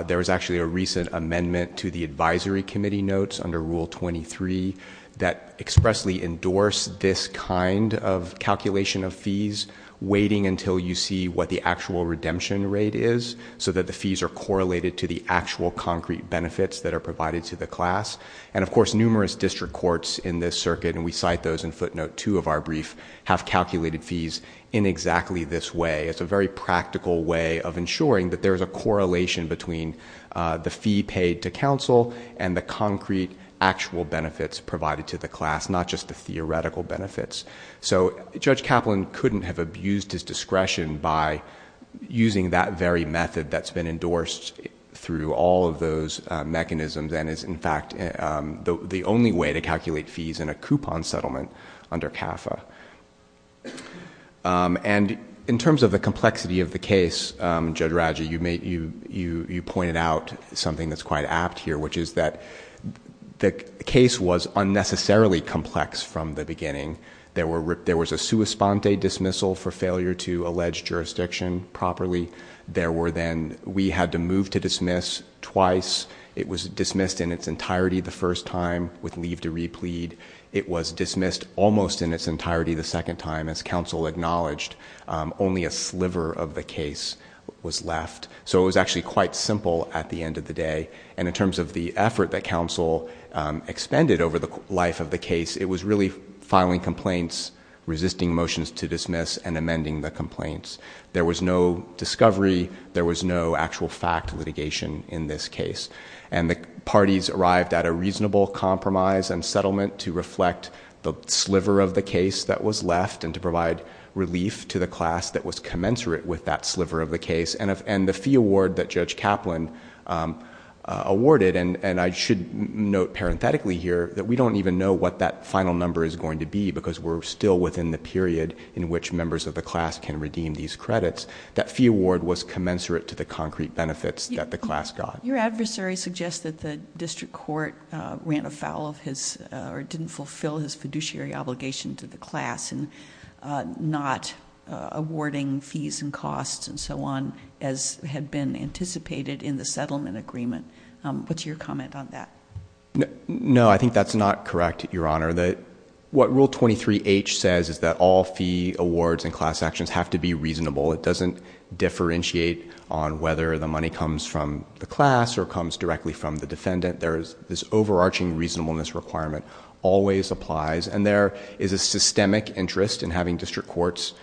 There was actually a recent amendment to the advisory committee notes under Rule 23 that expressly endorsed this kind of calculation of fees, waiting until you see what the actual redemption rate is so that the fees are correlated to the actual concrete benefits that are provided to the class. And of course, numerous district courts in this circuit, and we cite those in footnote 2 of our brief, have calculated fees in exactly this way. It's a very practical way of ensuring that there is a correlation between the fee paid to counsel and the concrete actual benefits provided to the class, not just the theoretical benefits. So Judge Kaplan couldn't have abused his discretion by using that very method that's been endorsed through all of those mechanisms and is, in fact, the only way to calculate fees in a coupon settlement under CAFA. And in terms of the complexity of the case, Judge Raja, you pointed out something that's quite apt here, which is that the case was unnecessarily complex from the beginning. There was a sua sponte dismissal for failure to allege jurisdiction properly. We had to move to dismiss twice. It was dismissed in its entirety the first time with leave to replead. It was dismissed almost in its entirety the second time, as counsel acknowledged. Only a sliver of the case was left. So it was actually quite simple at the end of the day. And in terms of the effort that counsel extended over the life of the case, it was really filing complaints, resisting motions to dismiss, and amending the complaints. There was no discovery. There was no actual fact litigation in this case. And the parties arrived at a reasonable compromise and settlement to reflect the sliver of the case that was left and to provide relief to the class that was commensurate with that sliver of the case. And the fee award that Judge Kaplan awarded, and I should note parenthetically here that we don't even know what that final number is going to be because we're still within the period in which members of the class can redeem these credits, that fee award was commensurate to the concrete benefits that the class got. Your adversary suggested the district court went afoul of his or didn't fulfill his fiduciary obligation to the class and not awarding fees and costs and so on as had been anticipated in the settlement agreement. What's your comment on that? No, I think that's not correct, Your Honor. What Rule 23H says is that all fee awards and class actions have to be reasonable. It doesn't differentiate on whether the money comes from the class or comes directly from the defendant. There is this overarching reasonableness requirement. Always applies. And there is a systemic interest in having district courts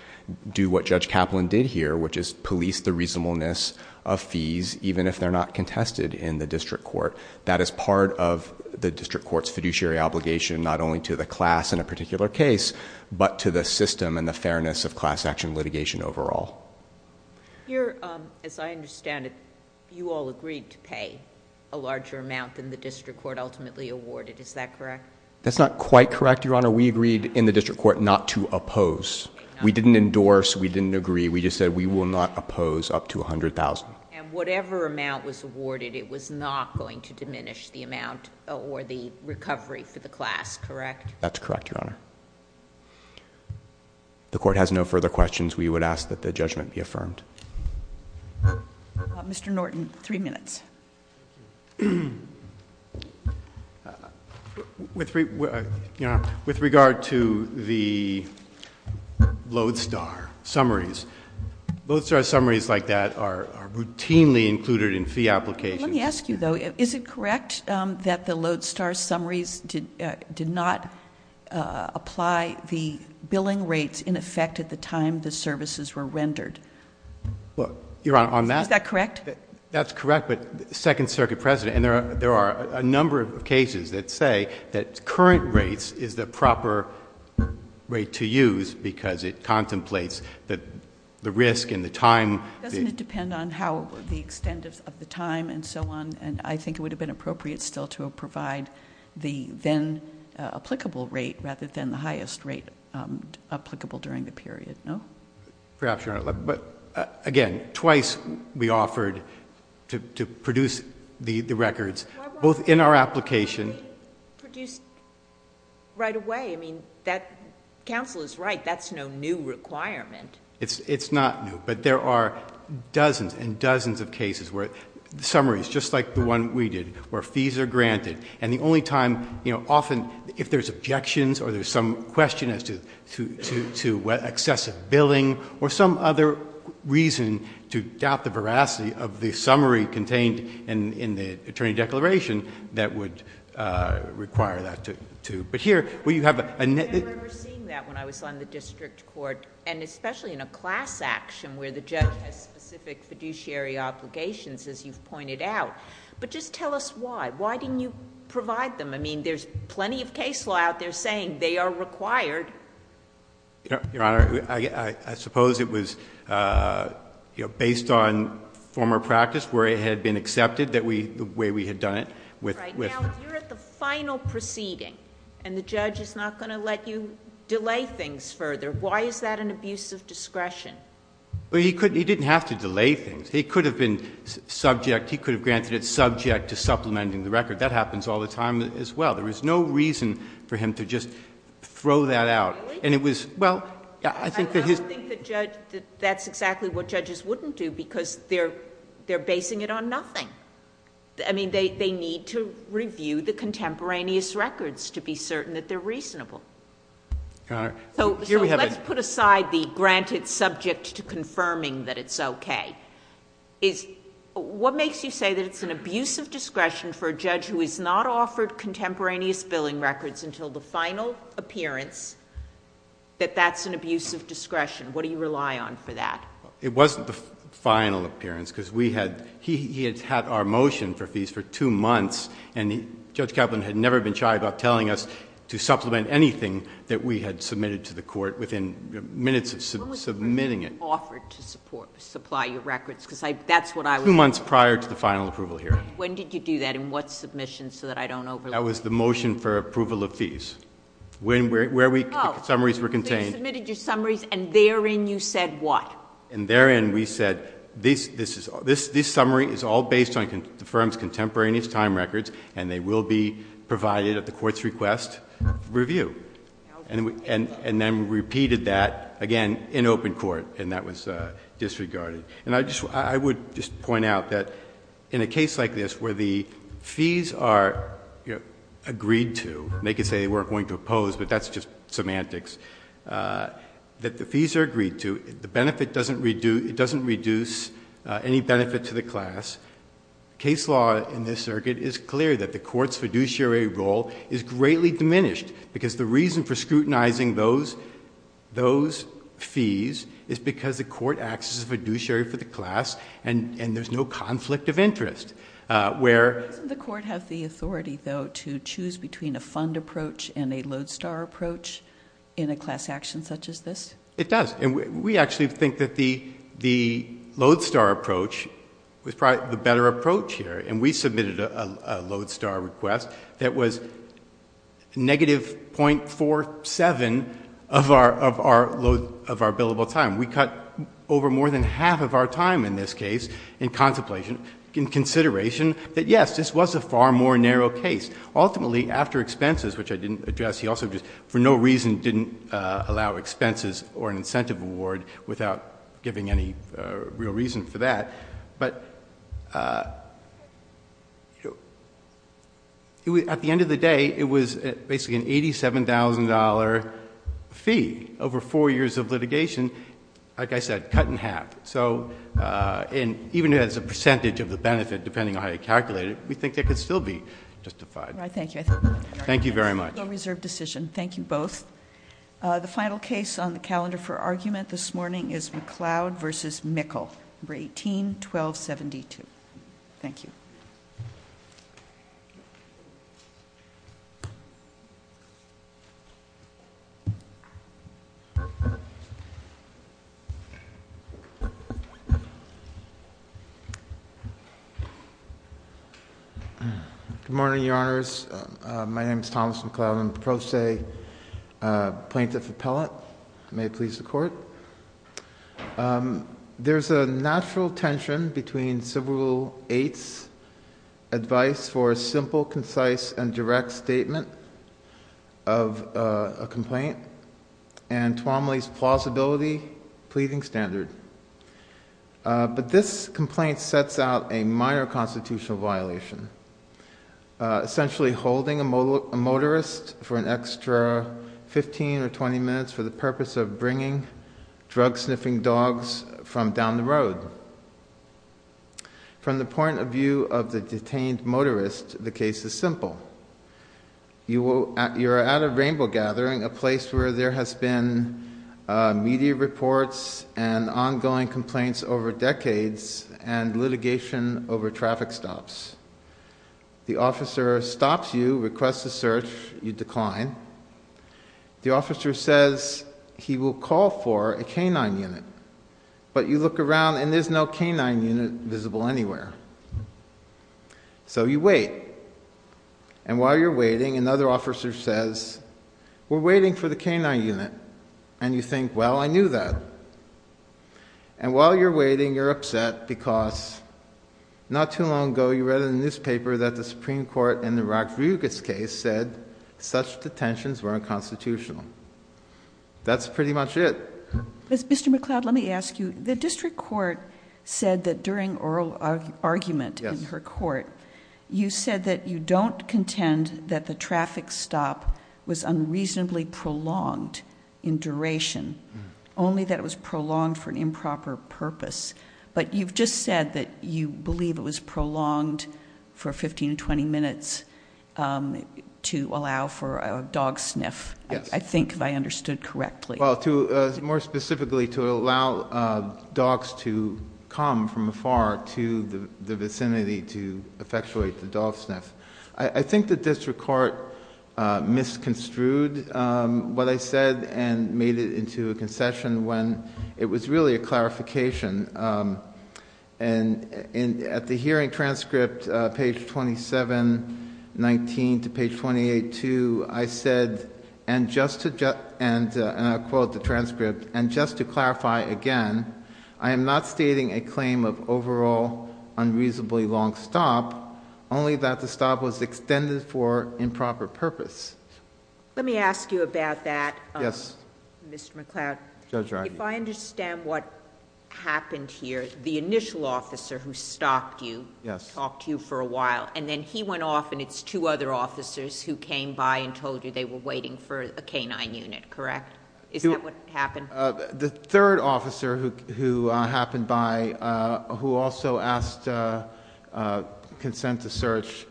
do what Judge Kaplan did here, which is police the reasonableness of fees even if they're not contested in the district court. That is part of the district court's fiduciary obligation not only to the class in a particular case but to the system and the fairness of class action litigation overall. As I understand it, you all agreed to pay a larger amount than the district court ultimately awarded. Is that correct? That's not quite correct, Your Honor. We agreed in the district court not to oppose. We didn't endorse, we didn't agree. We just said we will not oppose up to $100,000. And whatever amount was awarded, it was not going to diminish the amount or the recovery for the class, correct? That's correct, Your Honor. If the court has no further questions, we would ask that the judgment be affirmed. Mr. Norton, 3 minutes. With regard to the Lodestar summaries, Lodestar summaries like that are routinely included in fee applications. Let me ask you, though, is it correct that the Lodestar summaries did not apply the billing rates in effect at the time the services were rendered? Your Honor, on that... Is that correct? That's correct, but Second Circuit precedent, and there are a number of cases that say that current rates is the proper rate to use because it contemplates the risk and the time... Doesn't it depend on how the extent of the time and so on? And I think it would have been appropriate still to provide the then applicable rate rather than the highest rate applicable during the period, no? Perhaps, Your Honor. But, again, twice we offered to produce the records, both in our application... Why not produce right away? I mean, counsel is right. That's no new requirement. It's not new, but there are dozens and dozens of cases where summaries, just like the one we did, where fees are granted, and the only time, you know, often if there's objections or there's some question as to excessive billing or some other reason to doubt the veracity of the summary contained in the attorney declaration that would require that to... But here, we have... I remember seeing that when I was on the district court, and especially in a class action where the judge had specific fiduciary obligations, as you've pointed out. But just tell us why. Why didn't you provide them? I mean, there's plenty of case law out there saying they are required. Your Honor, I suppose it was based on former practice where it had been accepted the way we had done it. Right. Now, if you're at the final proceeding and the judge is not going to let you delay things further, why is that an abuse of discretion? Well, he didn't have to delay things. He could have been subject. He could have granted it subject to supplementing the record. That happens all the time as well. There was no reason for him to just throw that out. Really? And it was... Well, I think... I don't think that's exactly what judges wouldn't do because they're basing it on nothing. I mean, they need to review the contemporaneous records to be certain that they're reasonable. Your Honor... So let's put aside the granted subject to confirming that it's okay. What makes you say that it's an abuse of discretion for a judge who has not offered contemporaneous billing records until the final appearance that that's an abuse of discretion? What do you rely on for that? It wasn't the final appearance because we had... he had had our motion for fees for 2 months and Judge Kaplan had never been shy about telling us to supplement anything that we had submitted to the court within minutes of submitting it. When was it that you offered to supply your records? Because that's what I was... Two months prior to the final approval hearing. When did you do that and what submission so that I don't over... That was the motion for approval of fees. Where we... the summaries were contained. Oh, so you submitted your summaries and therein you said what? And therein we said, this summary is all based on the firm's contemporaneous time records and they will be provided at the court's request to review. And then repeated that again in open court and that was disregarded. And I would just point out that in a case like this where the fees are agreed to, they could say they weren't going to oppose, but that's just semantics, that the fees are agreed to, the benefit doesn't reduce... it doesn't reduce any benefit to the class, case law in this circuit is clear that the court's fiduciary role is greatly diminished because the reason for scrutinizing those fees is because the court acts as a fiduciary for the class and there's no conflict of interest. Where... The court has the authority, though, to choose between a fund approach and a lodestar approach in a class action such as this? It does. We actually think that the lodestar approach was probably the better approach here and we submitted a lodestar request that was negative .47 of our billable time. We cut over more than half of our time in this case in contemplation, in consideration, but yes, this was a far more narrow case. Ultimately, after expenses, which I didn't address, he also just for no reason didn't allow expenses or incentive award without giving any real reason for that, but... At the end of the day, it was basically an $87,000 fee over four years of litigation, like I said, cut in half. So even as a percentage of the benefit, depending on how you calculate it, we think it could still be justified. Thank you. Thank you very much. A well-reserved decision. Thank you both. The final case on the calendar for argument this morning is McLeod v. Mickle, number 18-1272. Thank you. Good morning, Your Honors. My name is Thomas McLeod. I'm the pro se plaintiff appellate. May it please the Court. There's a natural tension between Civil Rule 8's advice and the plaintiff's argument for a simple, concise, and direct statement of a complaint and Twomley's plausibility pleasing standard. But this complaint sets out a minor constitutional violation, essentially holding a motorist for an extra 15 or 20 minutes for the purpose of bringing drug-sniffing dogs from down the road. From the point of view of the detained motorist, the case is simple. You're at a rainbow gathering, a place where there has been media reports and ongoing complaints over decades and litigation over traffic stops. The officer stops you, requests a search. You decline. The officer says he will call for a canine unit. But you look around, and there's no canine unit visible anywhere. So you wait. And while you're waiting, another officer says, we're waiting for the canine unit. And you think, well, I knew that. And while you're waiting, you're upset because not too long ago, you read in the newspaper that the Supreme Court in the Rakugis case said such detentions were unconstitutional. That's pretty much it. Mr. McLeod, let me ask you. The district court said that during oral argument in her court, you said that you don't contend that the traffic stop was unreasonably prolonged in duration, only that it was prolonged for an improper purpose. But you've just said that you believe it was prolonged for 15 to 20 minutes to allow for a dog sniff, I think that I understood correctly. Well, more specifically, to allow dogs to come from afar to the vicinity to effectuate the dog sniff. I think the district court misconstrued what I said and made it into a concession when it was really a clarification. And at the hearing transcript, page 2719 to page 282, I said, and I'll quote the transcript, and just to clarify again, I am not stating a claim of overall unreasonably long stop, only that the stop was extended for improper purpose. Let me ask you about that, Mr. McLeod. If I understand what happened here, the initial officer who stopped you, talked to you for a while, and then he went off and it's two other officers who came by and told you they were waiting for a canine unit, correct? Is that what happened? The third officer who happened by, who also asked consent to search,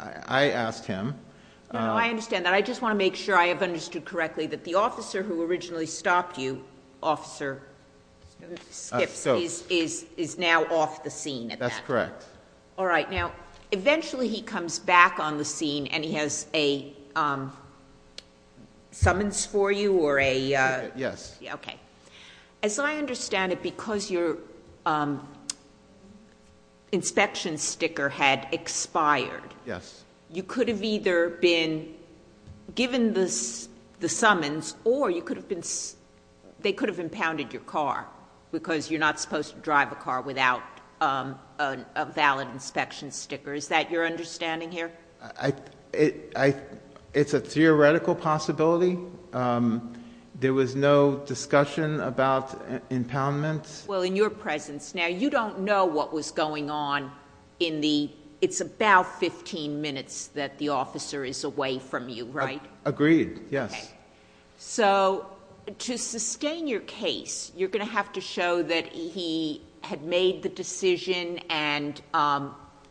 I asked him. I understand that. I just want to make sure I have understood correctly that the officer who originally stopped you, Officer Stift, is now off the scene. That's correct. All right. Now, eventually he comes back on the scene and he has a summons for you or a... Yes. Okay. As I understand it, because your inspection sticker had expired, you could have either been given the summons or they could have impounded your car because you're not supposed to drive a car without a valid inspection sticker. Is that your understanding here? It's a theoretical possibility. There was no discussion about impoundments. Well, in your presence. Now, you don't know what was going on in the... It's about 15 minutes that the officer is away from you, right? Agreed, yes. Okay. So, to sustain your case, you're going to have to show that he had made the decision and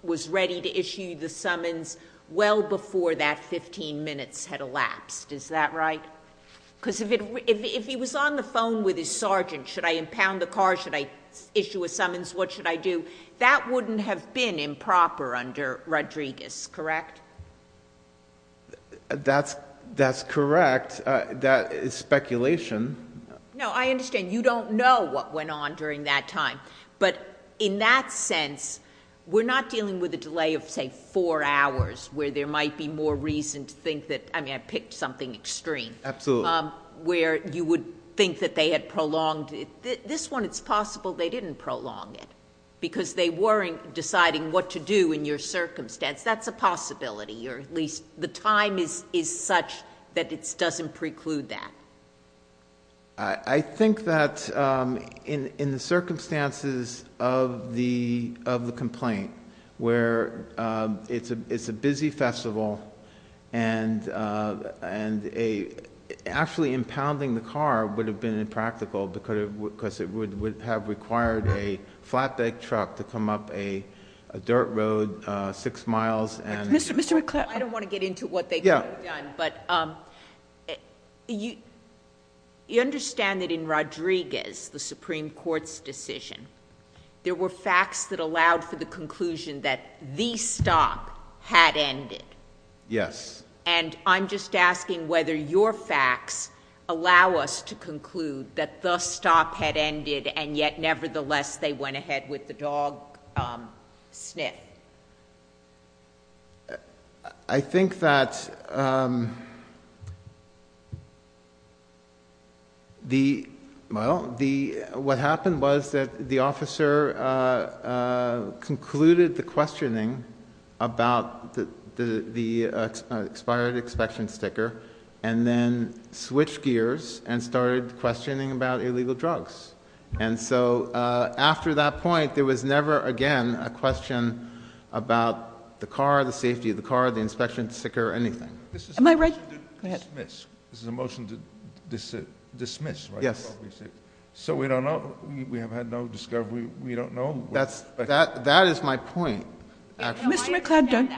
was ready to issue the summons well before that 15 minutes had elapsed. Is that right? Because if he was on the phone with his sergeant, should I impound the car? Should I issue a summons? What should I do? That wouldn't have been improper under Rodriguez, correct? That's correct. That is speculation. No, I understand. You don't know what went on during that time. But in that sense, we're not dealing with a delay of, say, four hours where there might be more reason to think that, I mean, I picked something extreme. Absolutely. Where you would think that they had prolonged it. This one, it's possible they didn't prolong it because they weren't deciding what to do in your circumstance. That's a possibility, or at least the time is such that it doesn't preclude that. I think that in circumstances of the complaint, where it's a busy festival and actually impounding the car would have been impractical because it would have required a flatbed truck to come up a dirt road six miles. Mr. McClatchy, I don't want to get into what they could have done. But you understand that in Rodriguez, the Supreme Court's decision, there were facts that allowed for the conclusion that the stop had ended. Yes. And I'm just asking whether your facts allow us to conclude that the stop had ended and yet nevertheless they went ahead with the dog sniff. I think that what happened was that the officer concluded the questioning about the expired inspection sticker and then switched gears and started questioning about illegal drugs. And so after that point, there was never again a question about the car, the safety of the car, the inspection sticker, anything. Am I right? Go ahead. This is a motion to dismiss, right? Yes. So we don't know. We have had no discovery. We don't know. That is my point. Mr. McLeod,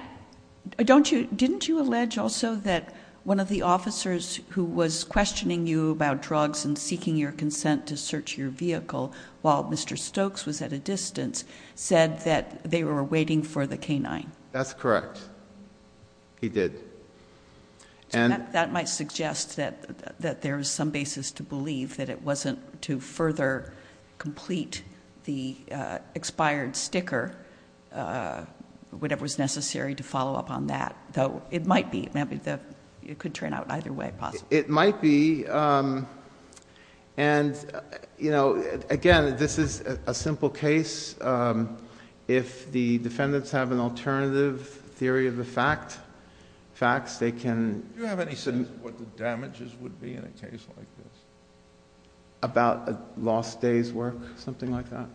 didn't you allege also that one of the officers who was questioning you about drugs and seeking your consent to search your vehicle while Mr. Stokes was at a distance said that they were waiting for the canine? That's correct. He did. That might suggest that there is some basis to believe that it wasn't to further complete the expired sticker, whatever was necessary to follow up on that. It might be. It could turn out either way. It might be. And again, this is a simple case. If the defendants have an alternative theory of the facts, they can... Do you have any sense of what the damages would be in a case like this? About a lost day's work, something like that?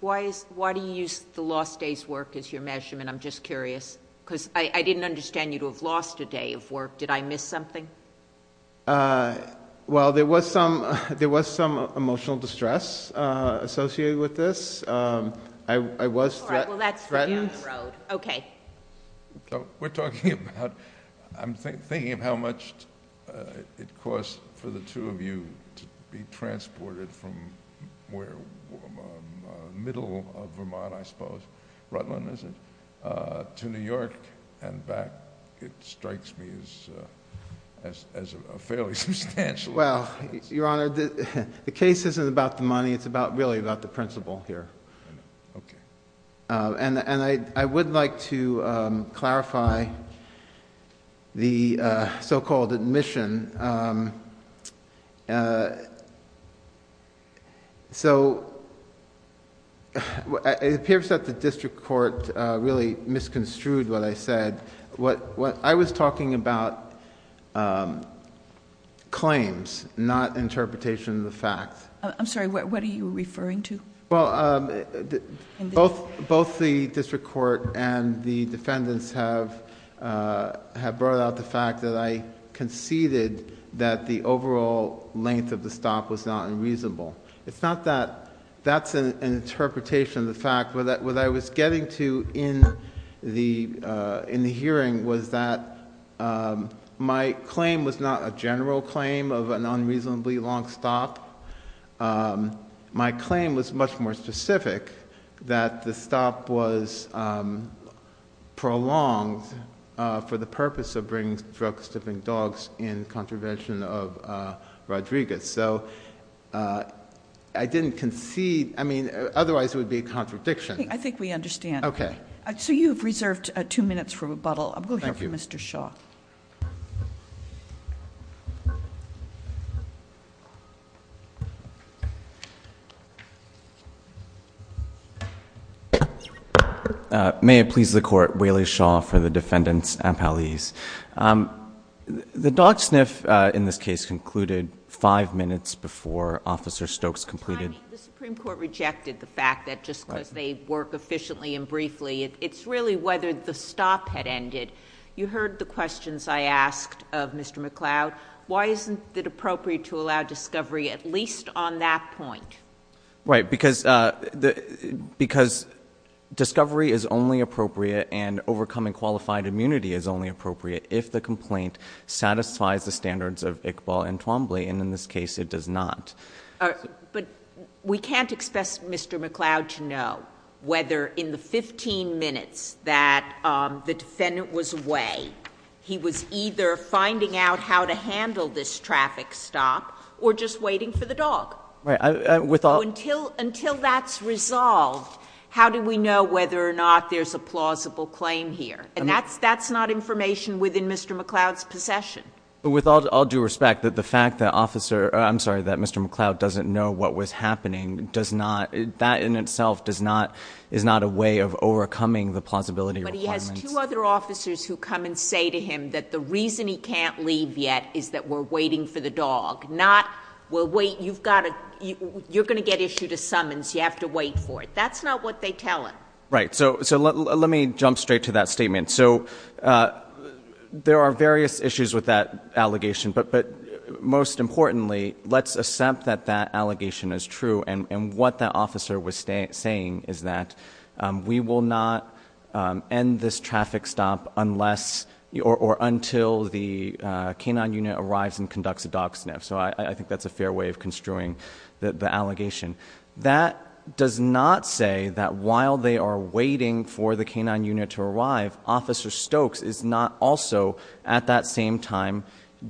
Why do you use the lost day's work as your measurement? I'm just curious. Because I didn't understand you to have lost a day of work. Did I miss something? Well, there was some emotional distress associated with this. I was... All right, well, that's a huge road. Okay. We're talking about... I'm thinking of how much it costs for the two of you to be transported from where... middle of Vermont, I suppose, Rutland is it, to New York and back. It strikes me as a fairly substantial... Well, Your Honor, the case isn't about the money. It's really about the principle here. Okay. And I would like to clarify the so-called admission. So it appears that the district court really misconstrued what I said. I was talking about claims, not interpretation of the fact. I'm sorry, what are you referring to? Well, both the district court and the defendants have brought out the fact that I conceded that the overall length of the stop was not unreasonable. It's not that... That's an interpretation of the fact. What I was getting to in the hearing was that my claim was not a general claim of an unreasonably long stop. My claim was much more specific that the stop was prolonged for the purpose of bringing drugs to the dogs in contravention of Rodriguez. So I didn't concede... Otherwise it would be a contradiction. I think we understand. Okay. So you've reserved two minutes for rebuttal. I'm going to go to Mr. Shaw. Thank you. May it please the Court. Waley Shaw for the defendants and police. The dog sniff in this case included five minutes before Officer Stokes concluded. The Supreme Court rejected the fact that just because they work efficiently and briefly, it's really whether the stop had ended. You heard the questions I asked of Mr. McCloud. Why isn't it appropriate to allow discovery at least on that point? Right, because discovery is only appropriate and overcoming qualified immunity is only appropriate if the complaint satisfies the standards of Iqbal and Twombly, and in this case it does not. But we can't expect Mr. McCloud to know whether in the 15 minutes that the defendant was away he was either finding out how to handle this traffic stop or just waiting for the dog. So until that's resolved, how do we know whether or not there's a plausible claim here? And that's not information within Mr. McCloud's possession. With all due respect, the fact that Mr. McCloud doesn't know what was happening, that in itself is not a way of overcoming the plausibility requirement. But he has two other officers who come and say to him that the reason he can't leave yet is that we're waiting for the dog, not you're going to get issued a summons, you have to wait for it. That's not what they tell him. Right, so let me jump straight to that statement. So there are various issues with that allegation, but most importantly, let's accept that that allegation is true and what that officer was saying is that we will not end this traffic stop unless or until the K-9 unit arrives and conducts a dog sniff. So I think that's a fair way of construing the allegation. That does not say that while they are waiting for the K-9 unit to arrive, Officer Stokes is not also at that same time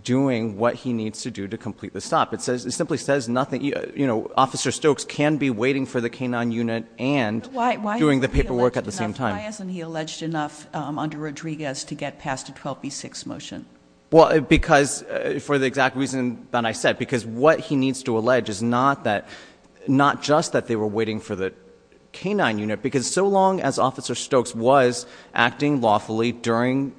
doing what he needs to do to complete the stop. It simply says nothing. Officer Stokes can be waiting for the K-9 unit and doing the paperwork at the same time. Why hasn't he alleged enough under Rodriguez to get past a 12B6 motion? Well, because, for the exact reason that I said, because what he needs to allege is not just that they were waiting for the K-9 unit, because so long as Officer Stokes was acting lawfully during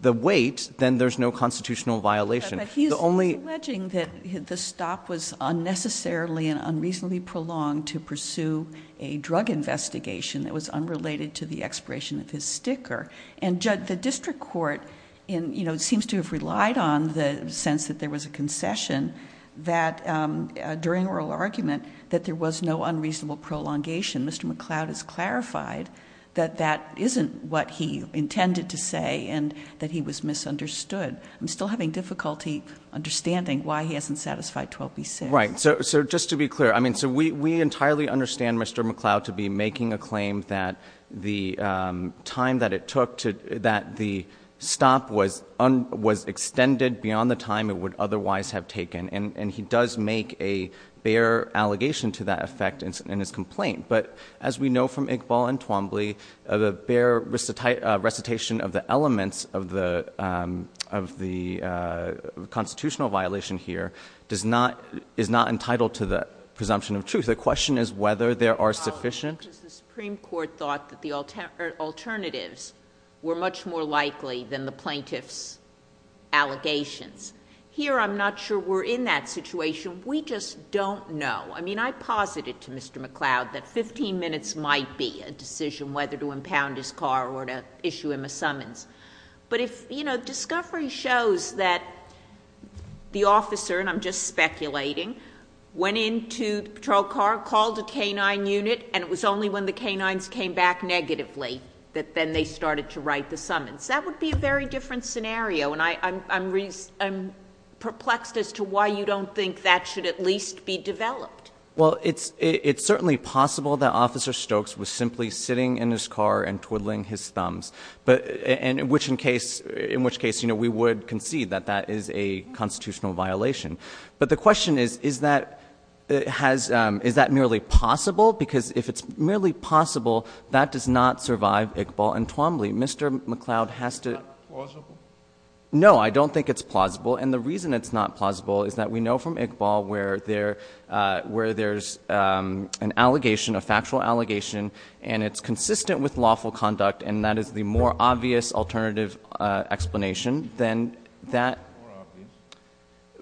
the wait, then there's no constitutional violation. But he's alleging that the stop was unnecessarily and unreasonably prolonged to pursue a drug investigation that was unrelated to the expiration of his sticker. And the district court seems to have relied on the sense that there was a concession during oral argument that there was no unreasonable prolongation. Mr. McCloud has clarified that that isn't what he intended to say and that he was misunderstood. I'm still having difficulty understanding why he hasn't satisfied 12B6. Right. So just to be clear, I mean, so we entirely understand Mr. McCloud to be making a claim that the time that it took to, that the stop was extended beyond the time it would otherwise have taken. And he does make a fair allegation to that effect in his complaint. But as we know from Iqbal and Twombly, the bare recitation of the elements of the constitutional violation here is not entitled to the presumption of truth. The question is whether there are sufficient... The Supreme Court thought that the alternatives were much more likely than the plaintiff's allegations. Here, I'm not sure we're in that situation. We just don't know. I mean, I posited to Mr. McCloud that 15 minutes might be a decision whether to impound his car or to issue him a summons. But if, you know, discovery shows that the officer, and I'm just speculating, went into the patrol car, called the K-9 unit, and it was only when the K-9s came back negatively that then they started to write the summons. That would be a very different scenario. And I'm perplexed as to why you don't think that should at least be developed. Well, it's certainly possible that Officer Stokes was simply sitting in his car and twiddling his thumbs, in which case, you know, we would concede that that is a constitutional violation. But the question is, is that nearly possible? Because if it's merely possible, that does not survive Iqbal and Twombly. Mr. McCloud has to... Is that plausible? No, I don't think it's plausible. And the reason it's not plausible is that we know from Iqbal where there's an allegation, a factual allegation, and it's consistent with lawful conduct, and that is the more obvious alternative explanation, then that... More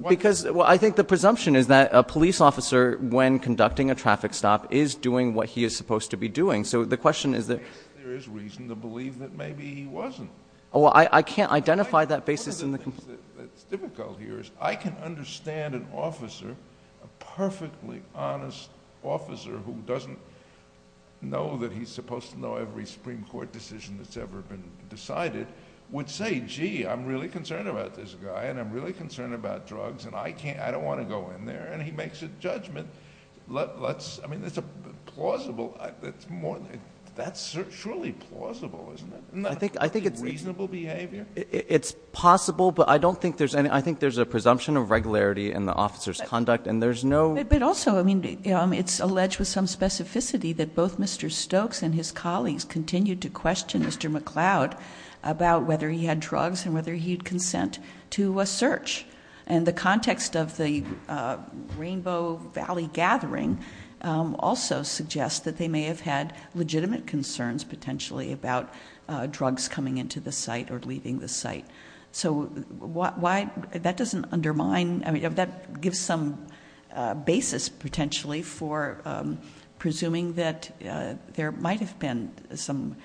obvious? Because I think the presumption is that a police officer, when conducting a traffic stop, is doing what he is supposed to be doing. So the question is that... There is reason to believe that maybe he wasn't. Well, I can't identify that basis in the... Difficult here is I can understand an officer, a perfectly honest officer, who doesn't know that he's supposed to know every Supreme Court decision that's ever been decided, would say, gee, I'm really concerned about this guy, and I'm really concerned about drugs, and I don't want to go in there, and he makes a judgment. Let's... I mean, it's plausible. That's truly plausible, isn't it? I think it's reasonable behavior. It's possible, but I don't think there's any... I think there's a presumption of regularity in the officer's conduct, and there's no... But also, I mean, it's alleged with some specificity that both Mr. Stokes and his colleagues continued to question Mr. McLeod about whether he had drugs and whether he'd consent to a search. And the context of the Rainbow Valley gathering also suggests that they may have had legitimate concerns, potentially, about drugs coming into the site or leaving the site. So why... That doesn't undermine... I mean, that gives some basis, potentially, for presuming that there might have been some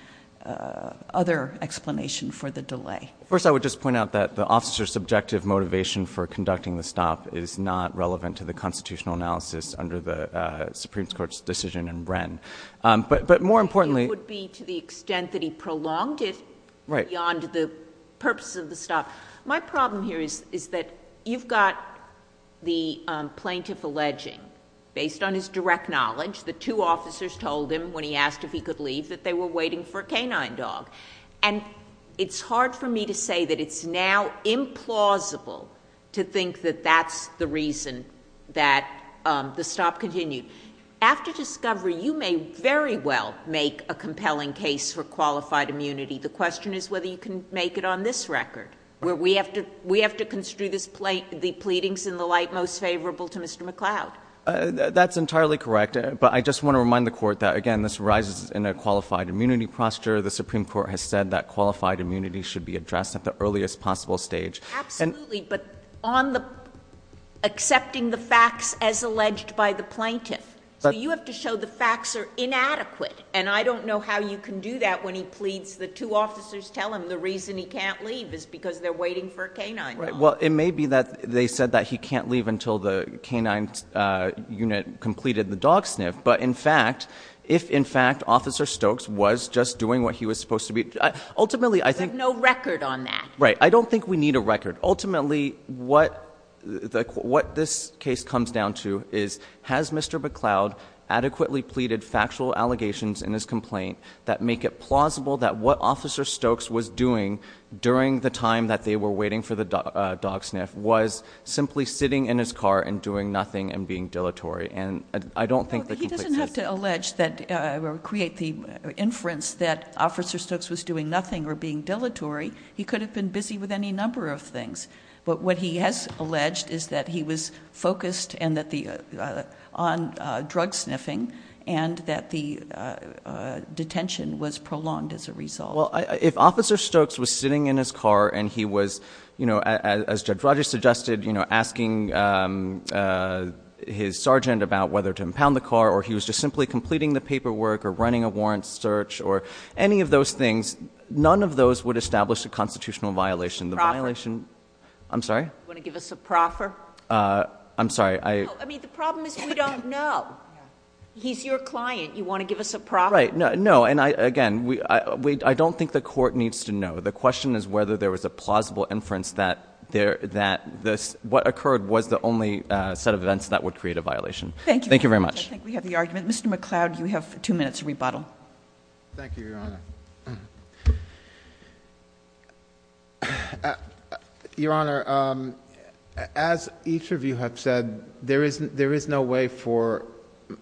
other explanation for the delay. First, I would just point out that the officer's subjective motivation for conducting the stop is not relevant to the constitutional analysis under the Supreme Court's decision in Wren. But more importantly... It would be to the extent that he prolonged it beyond the purpose of the stop. My problem here is that you've got the plaintiff alleging, based on his direct knowledge, the two officers told him when he asked if he could leave that they were waiting for a canine dog. And it's hard for me to say that it's now implausible to think that that's the reason that the stop continued. After discovery, you may very well make a compelling case for qualified immunity. The question is whether you can make it on this record, where we have to construe the pleadings in the light most favorable to Mr. McLeod. That's entirely correct. But I just want to remind the Court that, again, this arises in a qualified immunity posture. The Supreme Court has said that qualified immunity should be addressed at the earliest possible stage. Absolutely, but on the accepting the facts as alleged by the plaintiff, you have to show the facts are inadequate. And I don't know how you can do that when he pleads the two officers tell him the reason he can't leave is because they're waiting for a canine dog. Well, it may be that they said that he can't leave until the canine unit completed the dog sniff. But, in fact, if, in fact, Officer Stokes was just doing what he was supposed to be... Ultimately, I think... There's no record on that. Right. I don't think we need a record. Ultimately, what this case comes down to is has Mr. McLeod adequately pleaded factual allegations in his complaint that make it plausible that what Officer Stokes was doing during the time that they were waiting for the dog sniff was simply sitting in his car and doing nothing and being dilatory? And I don't think... He doesn't have to allege or create the inference that Officer Stokes was doing nothing or being dilatory. He could have been busy with any number of things. But what he has alleged is that he was focused on drug sniffing and that the detention was prolonged as a result. Well, if Officer Stokes was sitting in his car and he was, you know, as Judge Rogers suggested, you know, asking his sergeant about whether to impound the car or he was just simply completing the paperwork or running a warrant search or any of those things, none of those would establish a constitutional violation. The violation... Proffer. I'm sorry? Do you want to give us a proffer? I'm sorry. I... I mean, the problem is you don't know. He's your client. You want to give us a proffer? Right. No. And, again, I don't think the court needs to know. The question is whether there was a plausible inference that what occurred was the only set of events that would create a violation. Thank you. Thank you very much. I think we have the argument. Mr. McCloud, you have two minutes to rebuttal. Thank you, Your Honor. Your Honor, as each of you have said, there is no way for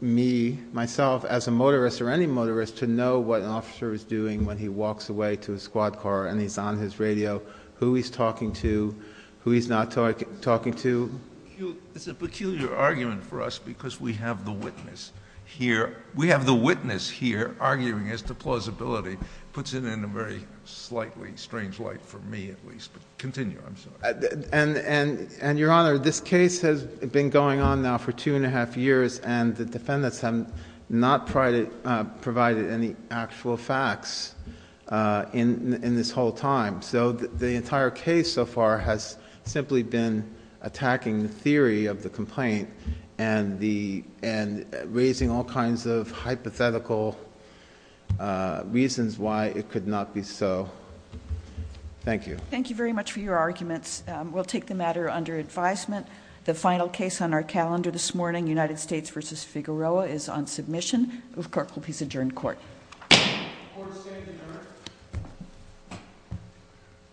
me, myself, as a motorist or any motorist, to know what an officer is doing when he walks away to a squad car and he's on his radio, who he's talking to, who he's not talking to. It's a peculiar argument for us because we have the witness here. We have the witness here arguing as to plausibility. It puts it in a very slightly strange light for me, at least. Continue. I'm sorry. Your Honor, this case has been going on now for two and a half years, and the defendants have not provided any actual facts in this whole time. So the entire case so far has simply been attacking the theory of the complaint and raising all kinds of hypothetical reasons why it could not be so. Thank you. Thank you very much for your argument. We'll take the matter under advisement. The final case on our calendar this morning, United States v. Figueroa, is on submission. This court will please adjourn the court.